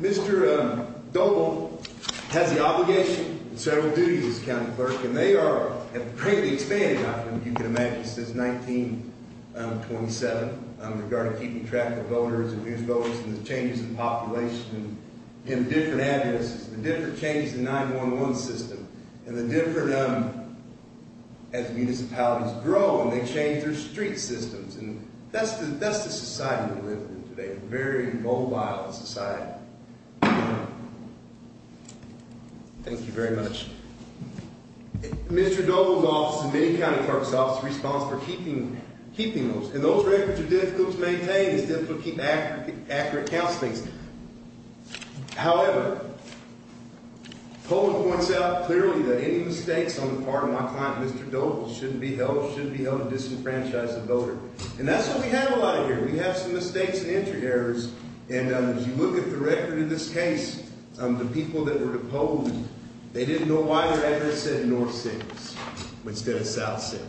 Mr. Goebel has the obligation and federal duty as a county clerk, and they are a pretty big thing, I think you can imagine, since 1927 in regard to keeping track of voters and new voters and the changes in population and the different avenues, the different changes in the 9-1-1 system, and the different, as municipalities grow, they change their street systems. And that's the society we live in today, a very mobile society. Thank you very much. Mr. Goebel and many county clerk's offices respond for keeping those. And those records are difficult to maintain and difficult to keep accurate counting. However, polling points out clearly that any mistakes on the part of my client, Mr. Goebel, should be held, should be held to disenfranchise the voter. And that's what we have a lot of here. We have some mistakes and entry errors, and as you look at the record in this case, the people that were opposed, they didn't know why their address said North City, instead of South City.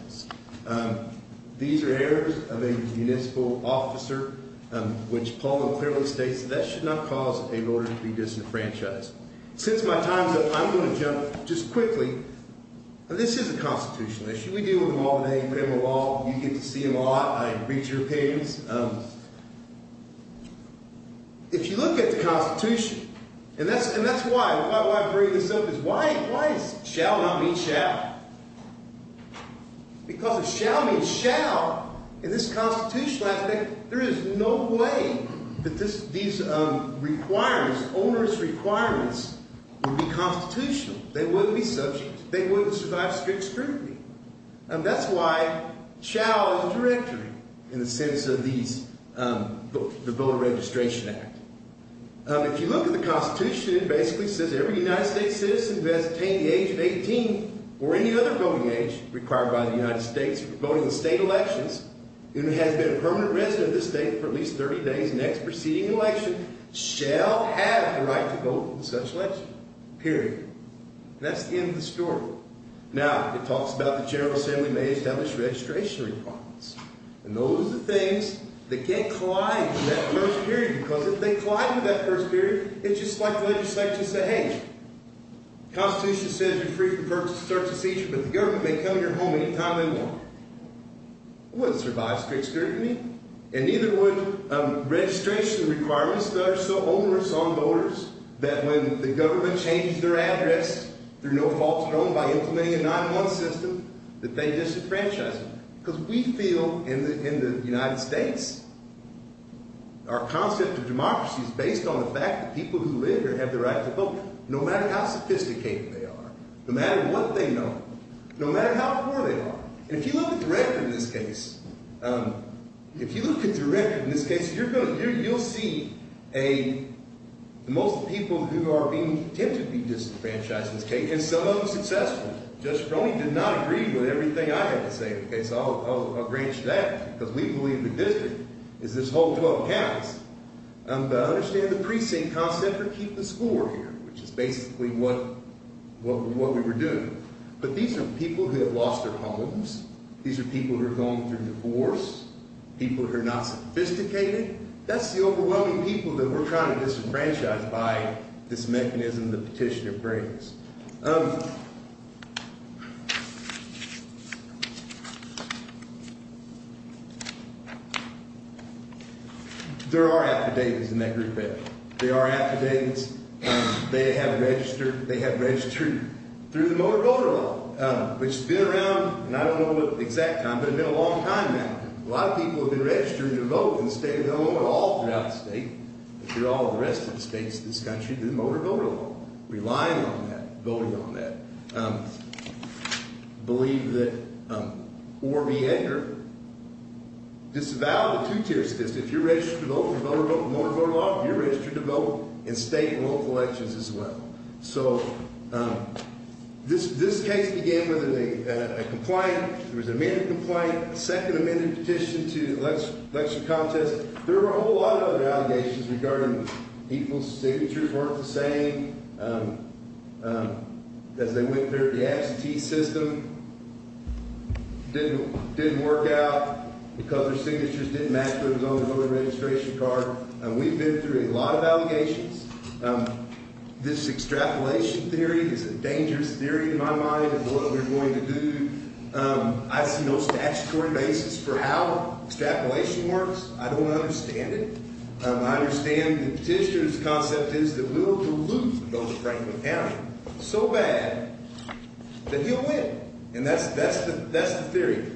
These are errors of a municipal officer, which polling clearly states that that should not cause a voter to be disenfranchised. Since my time's up, I'm going to jump just quickly. This is the Constitution. We deal with them all day. We're in the law. You get to see a lot. I read your opinions. If you look at the Constitution, and that's why I bring this up, is why is shall not be shall? Because the shall means shall. In this Constitution, I think, there is no way that these requirements, onerous requirements, would be constitutional. They wouldn't be such. They wouldn't survive strict scrutiny. And that's why shall is a directory, in the case of the Voter Registration Act. If you look at the Constitution, it basically says that every United States citizen who has attained the age of 18, or any other voting age required by the United States, voting in state elections, and has been a permanent resident of this state for at least 30 days, next or preceding election, shall have the right to vote in such and such period. That's the end of the story. Now, it talks about the General Assembly may establish registration requirements. And those are the things that can't collide with that first period, because if they collide with that first period, it's just part of the legislature's behavior. The Constitution says, if you're free from birth, sex, or fetus, you're forgiven, you may come to your home anytime you want. It wouldn't survive strict scrutiny. And even with registration requirements that are so onerous on voters, that when the government changes their address, there's no false hope by implementing a 9-1-1 system, that they disenfranchise. Because we feel, in the United States, our concept of democracy is based on the fact that people who live here have the right to vote, no matter how sophisticated they are. No matter what they know. No matter how poor they are. If you look at the record in this case, if you look at the record in this case, you'll see the most people who are being, tend to be disenfranchised in this case, and some unsuccessful. Judge Cronin did not agree with everything I had to say in this case. I'll agree to that. Because we believe the difference is this whole 12 counties. I understand the precinct concept of keeping us poor here, which is basically what we were doing. But these are people who have lost their homes. These are people who are going through divorce. People who are not sophisticated. That's the overwhelming people who are kind of disenfranchised by this mechanism that Petitioner brings. There are affidavits in every case. There are affidavits. They have registered, they have raised truth. Through the motor voter law, which has been around, I don't know the exact time, but it's been a long time now. A lot of people have been registered to vote, and the state has done a little bit of all throughout the state, through all of the rest of the states in this country, through motor voter law. Relying on that. Voting on that. I believe that, or be it, it's about a two-tiered system. If you're registered to vote, you're voting on the motor voter law. If you're registered to vote, the state votes elections as well. So, this case, again, was a compliant, it was an amended compliant, a second amended petition to the election contest. There were a whole lot of other allegations regarding people's signatures weren't the same, that they went through the absentee system, didn't work out, the color signatures didn't match those on the voter registration card. We've been through a lot of allegations. This extrapolation theory is a dangerous theory in my mind of what we're going to do. I have no statutory basis for how extrapolation works. I don't understand it. I understand the petitioner's concept is that we were to lose voter's right to vote county, so bad, that he'll win. And that's the theory.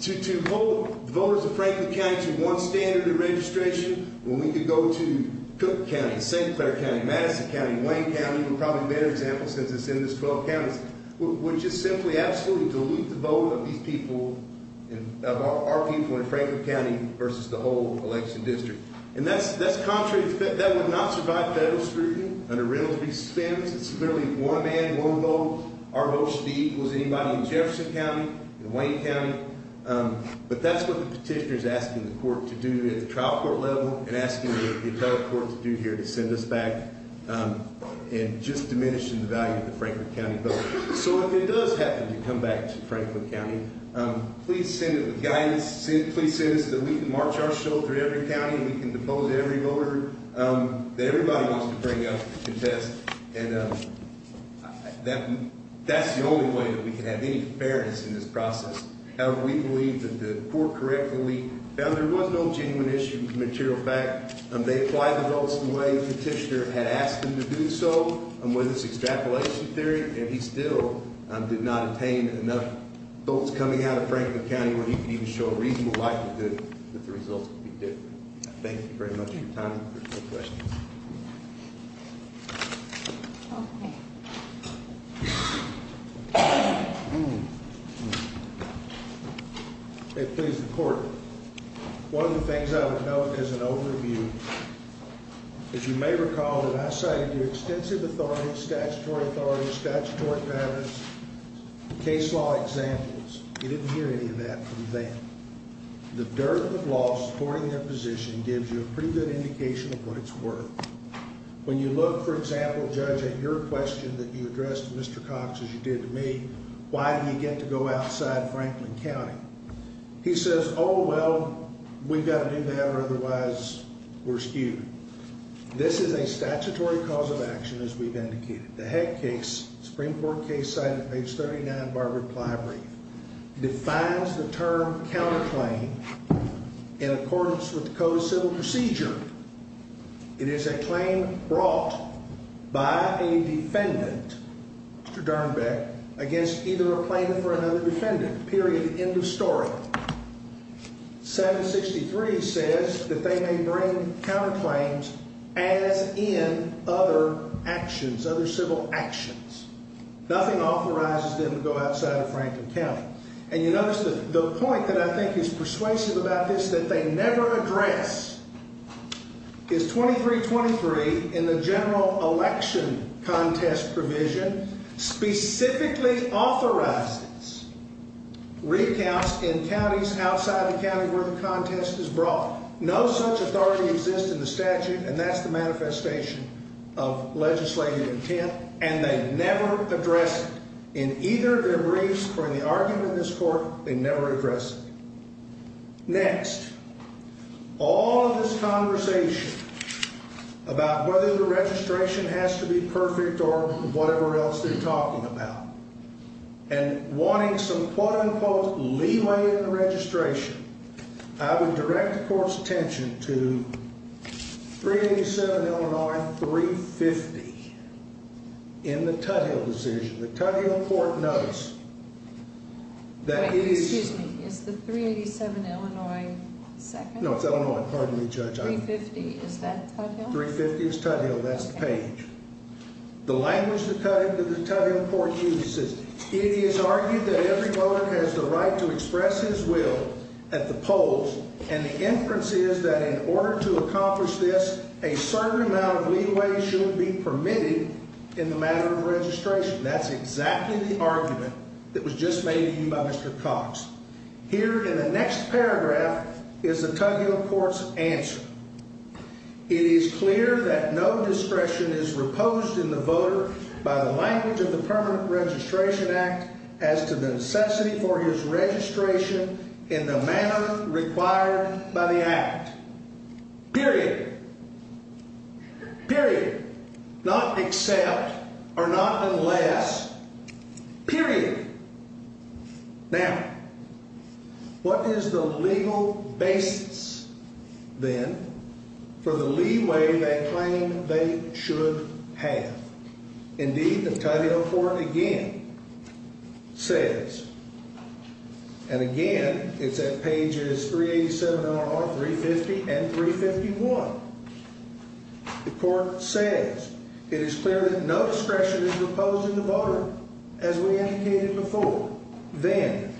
To hold voter's right to vote county to one standard of registration, when we can go to Cook County, St. Clair County, Madison County, Wayne County, we've probably made examples of this in this 12 counties, which is simply absolutely to lose the vote of these people, of our people in Franklin County versus the whole election district. And that's contrary, that would not survive federal scrutiny under renovation standards. It's literally one man, one vote. Our vote should be equal to anybody in Jefferson County, in Wayne County. But that's what the petitioner's asking the court to do. He's asking us to be at the trial court level and asking us to do what the other courts do here to send us back and just diminish the value of the Franklin County vote. So when it does happen, we come back to Franklin County, please send us the guidance, please send us that we can march our shoulder in every county, we can oppose every voter, that everybody wants to bring up to protest. That's the only way that we can have any fairness in this process. However, we believe that the court correctly, that there were no genuine issues, material facts. They applied the votes the way the petitioner had asked them to do so, when it was the extrapolation period, and he still did not obtain enough votes coming out of Franklin County where he could even show a reasonable likelihood that the results would be different. Thank you very much for your time. If there's no questions. Thank you. Please report. One of the things I would note is an overview. If you may recall that I said the extensive authority, statutory authority, statutory matters, case law examples, you didn't hear any of that from them. The dirt of the law supporting their position gives you a pretty good indication of what it's worth. When you look, for example, Judge, at your question that you addressed to Mr. Cox, as you did to me, why did we get to go outside Franklin County? He says, oh, well, we've got to do whatever, otherwise, we're skewed. This is a statutory cause of action, as we've indicated. The Heck case, Supreme Court case, cited page 79 of our reply brief, defines the term counterclaim in accordance with the Code of Civil Procedure. It is a claim brought by a defendant, Mr. Darnbeck, against either a plaintiff or another defendant, period, end of story. 763 says that they may bring counterclaims as in other actions, other civil actions. Nothing authorizes them to go outside of Franklin County. And you notice that the point that I think is persuasive about this, that they never address, is 2323, in the general election contest provision, specifically authorizes recounts in counties outside the county where the contest is brought. No such authority exists in the statute, and that's the manifestation of legislative intent, and they never address it in either their briefs or in the argument in this court, they never address it. Next, all of this conversation about whether the registration has to be perfect or whatever else they're talking about, and wanting some quote-unquote leeway in the registration, I would direct the court's attention to 387-L-9-350 in the Tuttial decision, the Tuttial court notice, that it is... Excuse me, is this 387 Illinois 2nd? No, it's Illinois, pardon me, Judge. 350, is that Tuttial? 350 is Tuttial, that's the page. The language of the Tuttial, that the Tuttial court uses, it is argued that every voter has the right to express his will at the polls, and the inference is that in order to accomplish this, a certain amount of leeway should be permitted in the manner of registration. That's exactly the argument that was just made to you by Mr. Cox. Here, in the next paragraph, is the Tuttial court's answer. It is clear that no discretion is reposed in the voter by the language of the Permanent Registration Act as to the necessity for his registration in the manner required by the Act. Period. Period. Period. Not except, or not unless. Period. Now, what is the legal basis, then, for the leeway they claim they should have? Indeed, the Tuttial court, again, says, and again, it's at pages 387 and on, 350 and 351, the court says, it is clear that no discretion is reposed in the voter as we indicated before. Then,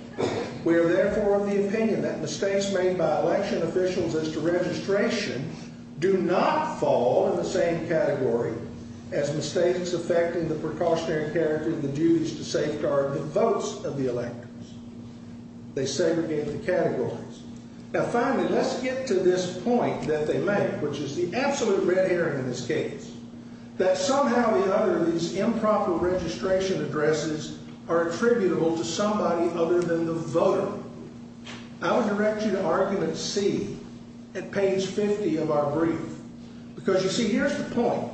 we are therefore of the opinion that mistakes made by election officials as to registration do not fall in the same category as mistakes affecting the precautionary character of the dues to safeguard the votes of the electors. They segregate the categories. Now, finally, let's get to this point that they make, which is the absolute red herring in this case, that somehow or another, these improper registration addresses are attributable to somebody other than the voter. I would direct you to argument C at page 50 of our brief because, you see, here's the point.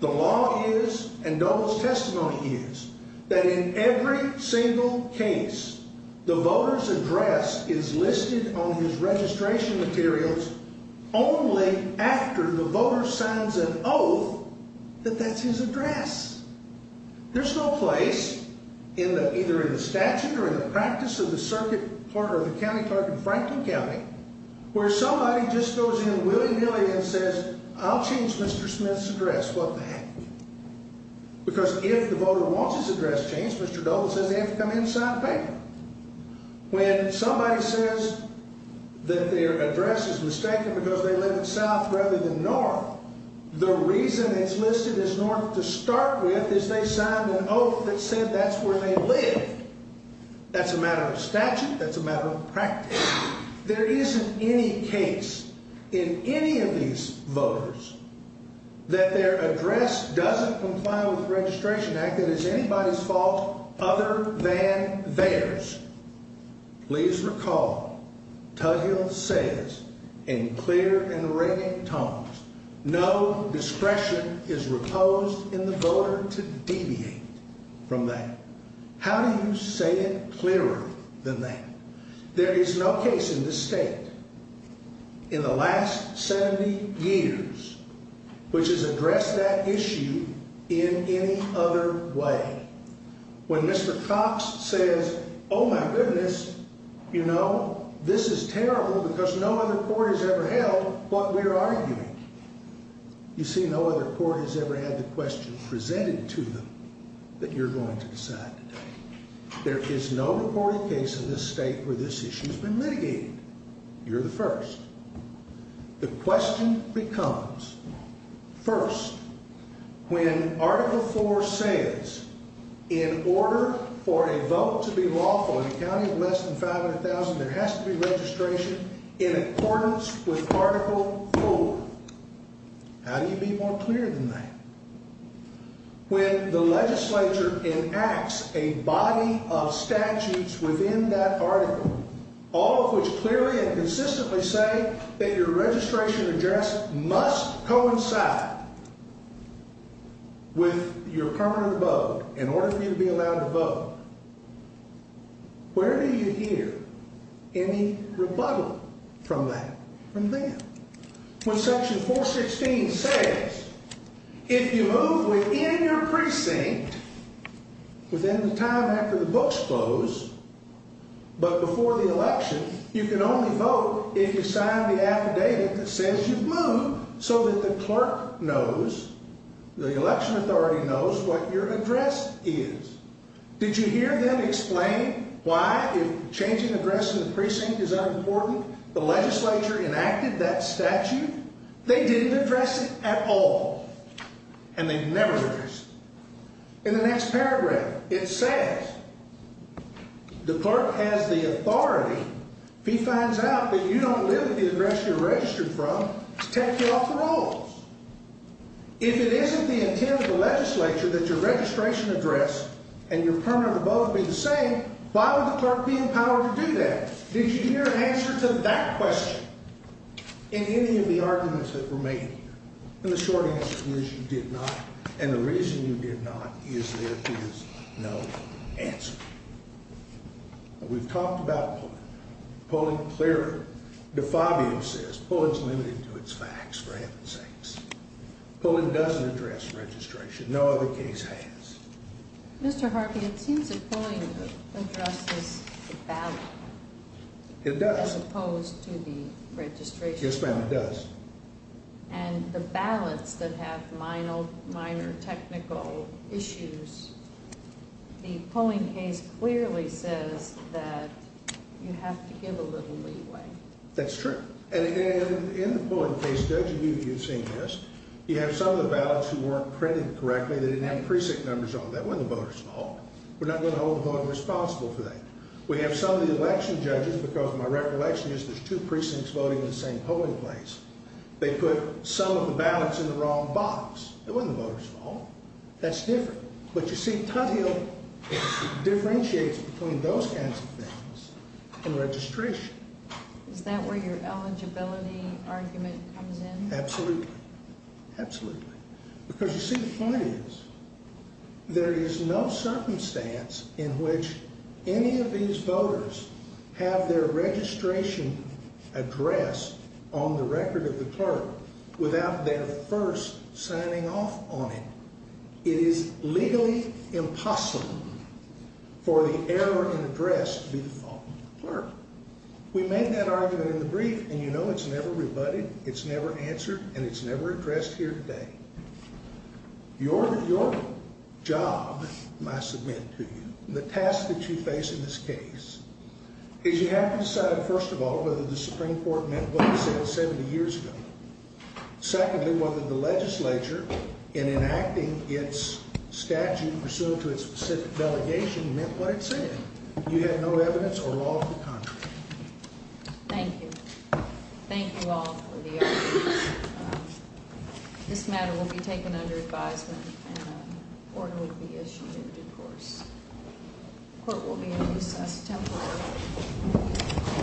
The law is, and those testimony is, that in every single case, the voter's address is listed on his registration materials only after the voter signs an oath that that's his address. There's no place, either in the statute or in the practice of the circuit for the county clerk in Franklin County, where somebody just goes in and willy-nilly and says, I'll change Mr. Smith's address. Well, they haven't. Because if the voter wants his address changed, Mr. Doble said they have to come in and sign a paper. When somebody says that their address is mistaken because they live in the South rather than North, the reason it's listed as one to start with is they signed an oath that says that's where they live. That's a matter of statute. That's a matter of practice. There isn't any case in any of these voters that their address doesn't comply with the Registration Act and is anybody's fault other than theirs. Please recall, Tugwell says in clear and raking tones, no discretion is proposed in the voter to deviate from that. How do you say it clearer than that? There is no case in this state in the last 70 years which has addressed that issue in any other way. When Mr. Cox says, oh, my goodness, you know, this is terrible because no other court has ever held what we're arguing. You see, no other court has ever had the question presented to them that you're going to decide today. There is no reported case in this state where this issue has been mitigated. You're the first. The question becomes, first, when Article IV says in order for a vote to be lawful in a county of less than 500,000, there has to be registration in accordance with Article IV. How do you be more clear than that? When the legislature enacts a body of statutes within that article, all of which clearly and consistently say that your registration address must coincide with your permanent vote in order for you to be allowed to vote, where do you hear any rebuttal from that? From me. When Section 416 says if you vote within your precinct within the time after the votes close, but before the election, you can only vote if you sign the affidavit that says you've moved so that the clerk knows, the election authority knows, what your address is. Did you hear them explain why changing the address in the precinct is unimportant? The legislature enacted that statute. They didn't address it at all, and they never addressed it. In the next paragraph, it says the clerk has the authority. He finds out that you don't live at the address you're registered from. He cuts you off the rolls. If it isn't the intent of the legislature that your registration address and your permanent vote be the same, why would the clerk be empowered to do that? Did you hear an answer to that question in any of the arguments that were made here? The short answer is you did not, and the reason you did not is there is no answer. We've talked about polling. Polling clearly. DeFabian says polling is limited to its facts, for heaven's sakes. Polling doesn't address registration. No other case has. Mr. Harkin, it seems that polling addresses the balance. It does. As opposed to the registration. Yes, ma'am, it does. And the balance that has minor technical issues, the polling case clearly says that you have to give a little leeway. That's true. And in the polling case, judge immediately has seen this. You have some of the ballots who weren't printed correctly. They didn't have precinct numbers on them. That wasn't voters' fault. We're not going to hold voters responsible for that. We have some of the election judges, because my recollection is there's two precincts voting in the same polling place. They put some of the ballots in the wrong box. That wasn't voters' fault. That's different. But you see, probably it differentiates between those kinds of things and registration. Is that where your eligibility argument comes in? Absolutely. Absolutely. Because you see, the point is, there is no circumstance in which any of these voters have their registration addressed on the record of the clerk without their first signing off on it. It is legally impossible for the error in address to be the fault of the clerk. We make that argument in the brief, and you know it's never rebutted, it's never answered, and it's never addressed here today. Your job, I submit to you, the task that you face in this case, is you have to decide, first of all, whether the Supreme Court meant what it said 70 years ago. Secondly, whether the legislature, in enacting its statute or so for its specific delegation, meant what it said. If you have no evidence, or all of the contrary. Thank you. Thank you all for the evidence. This matter will be taken under advisement, and the court will be issuing it, of course. The court will hear it temporarily.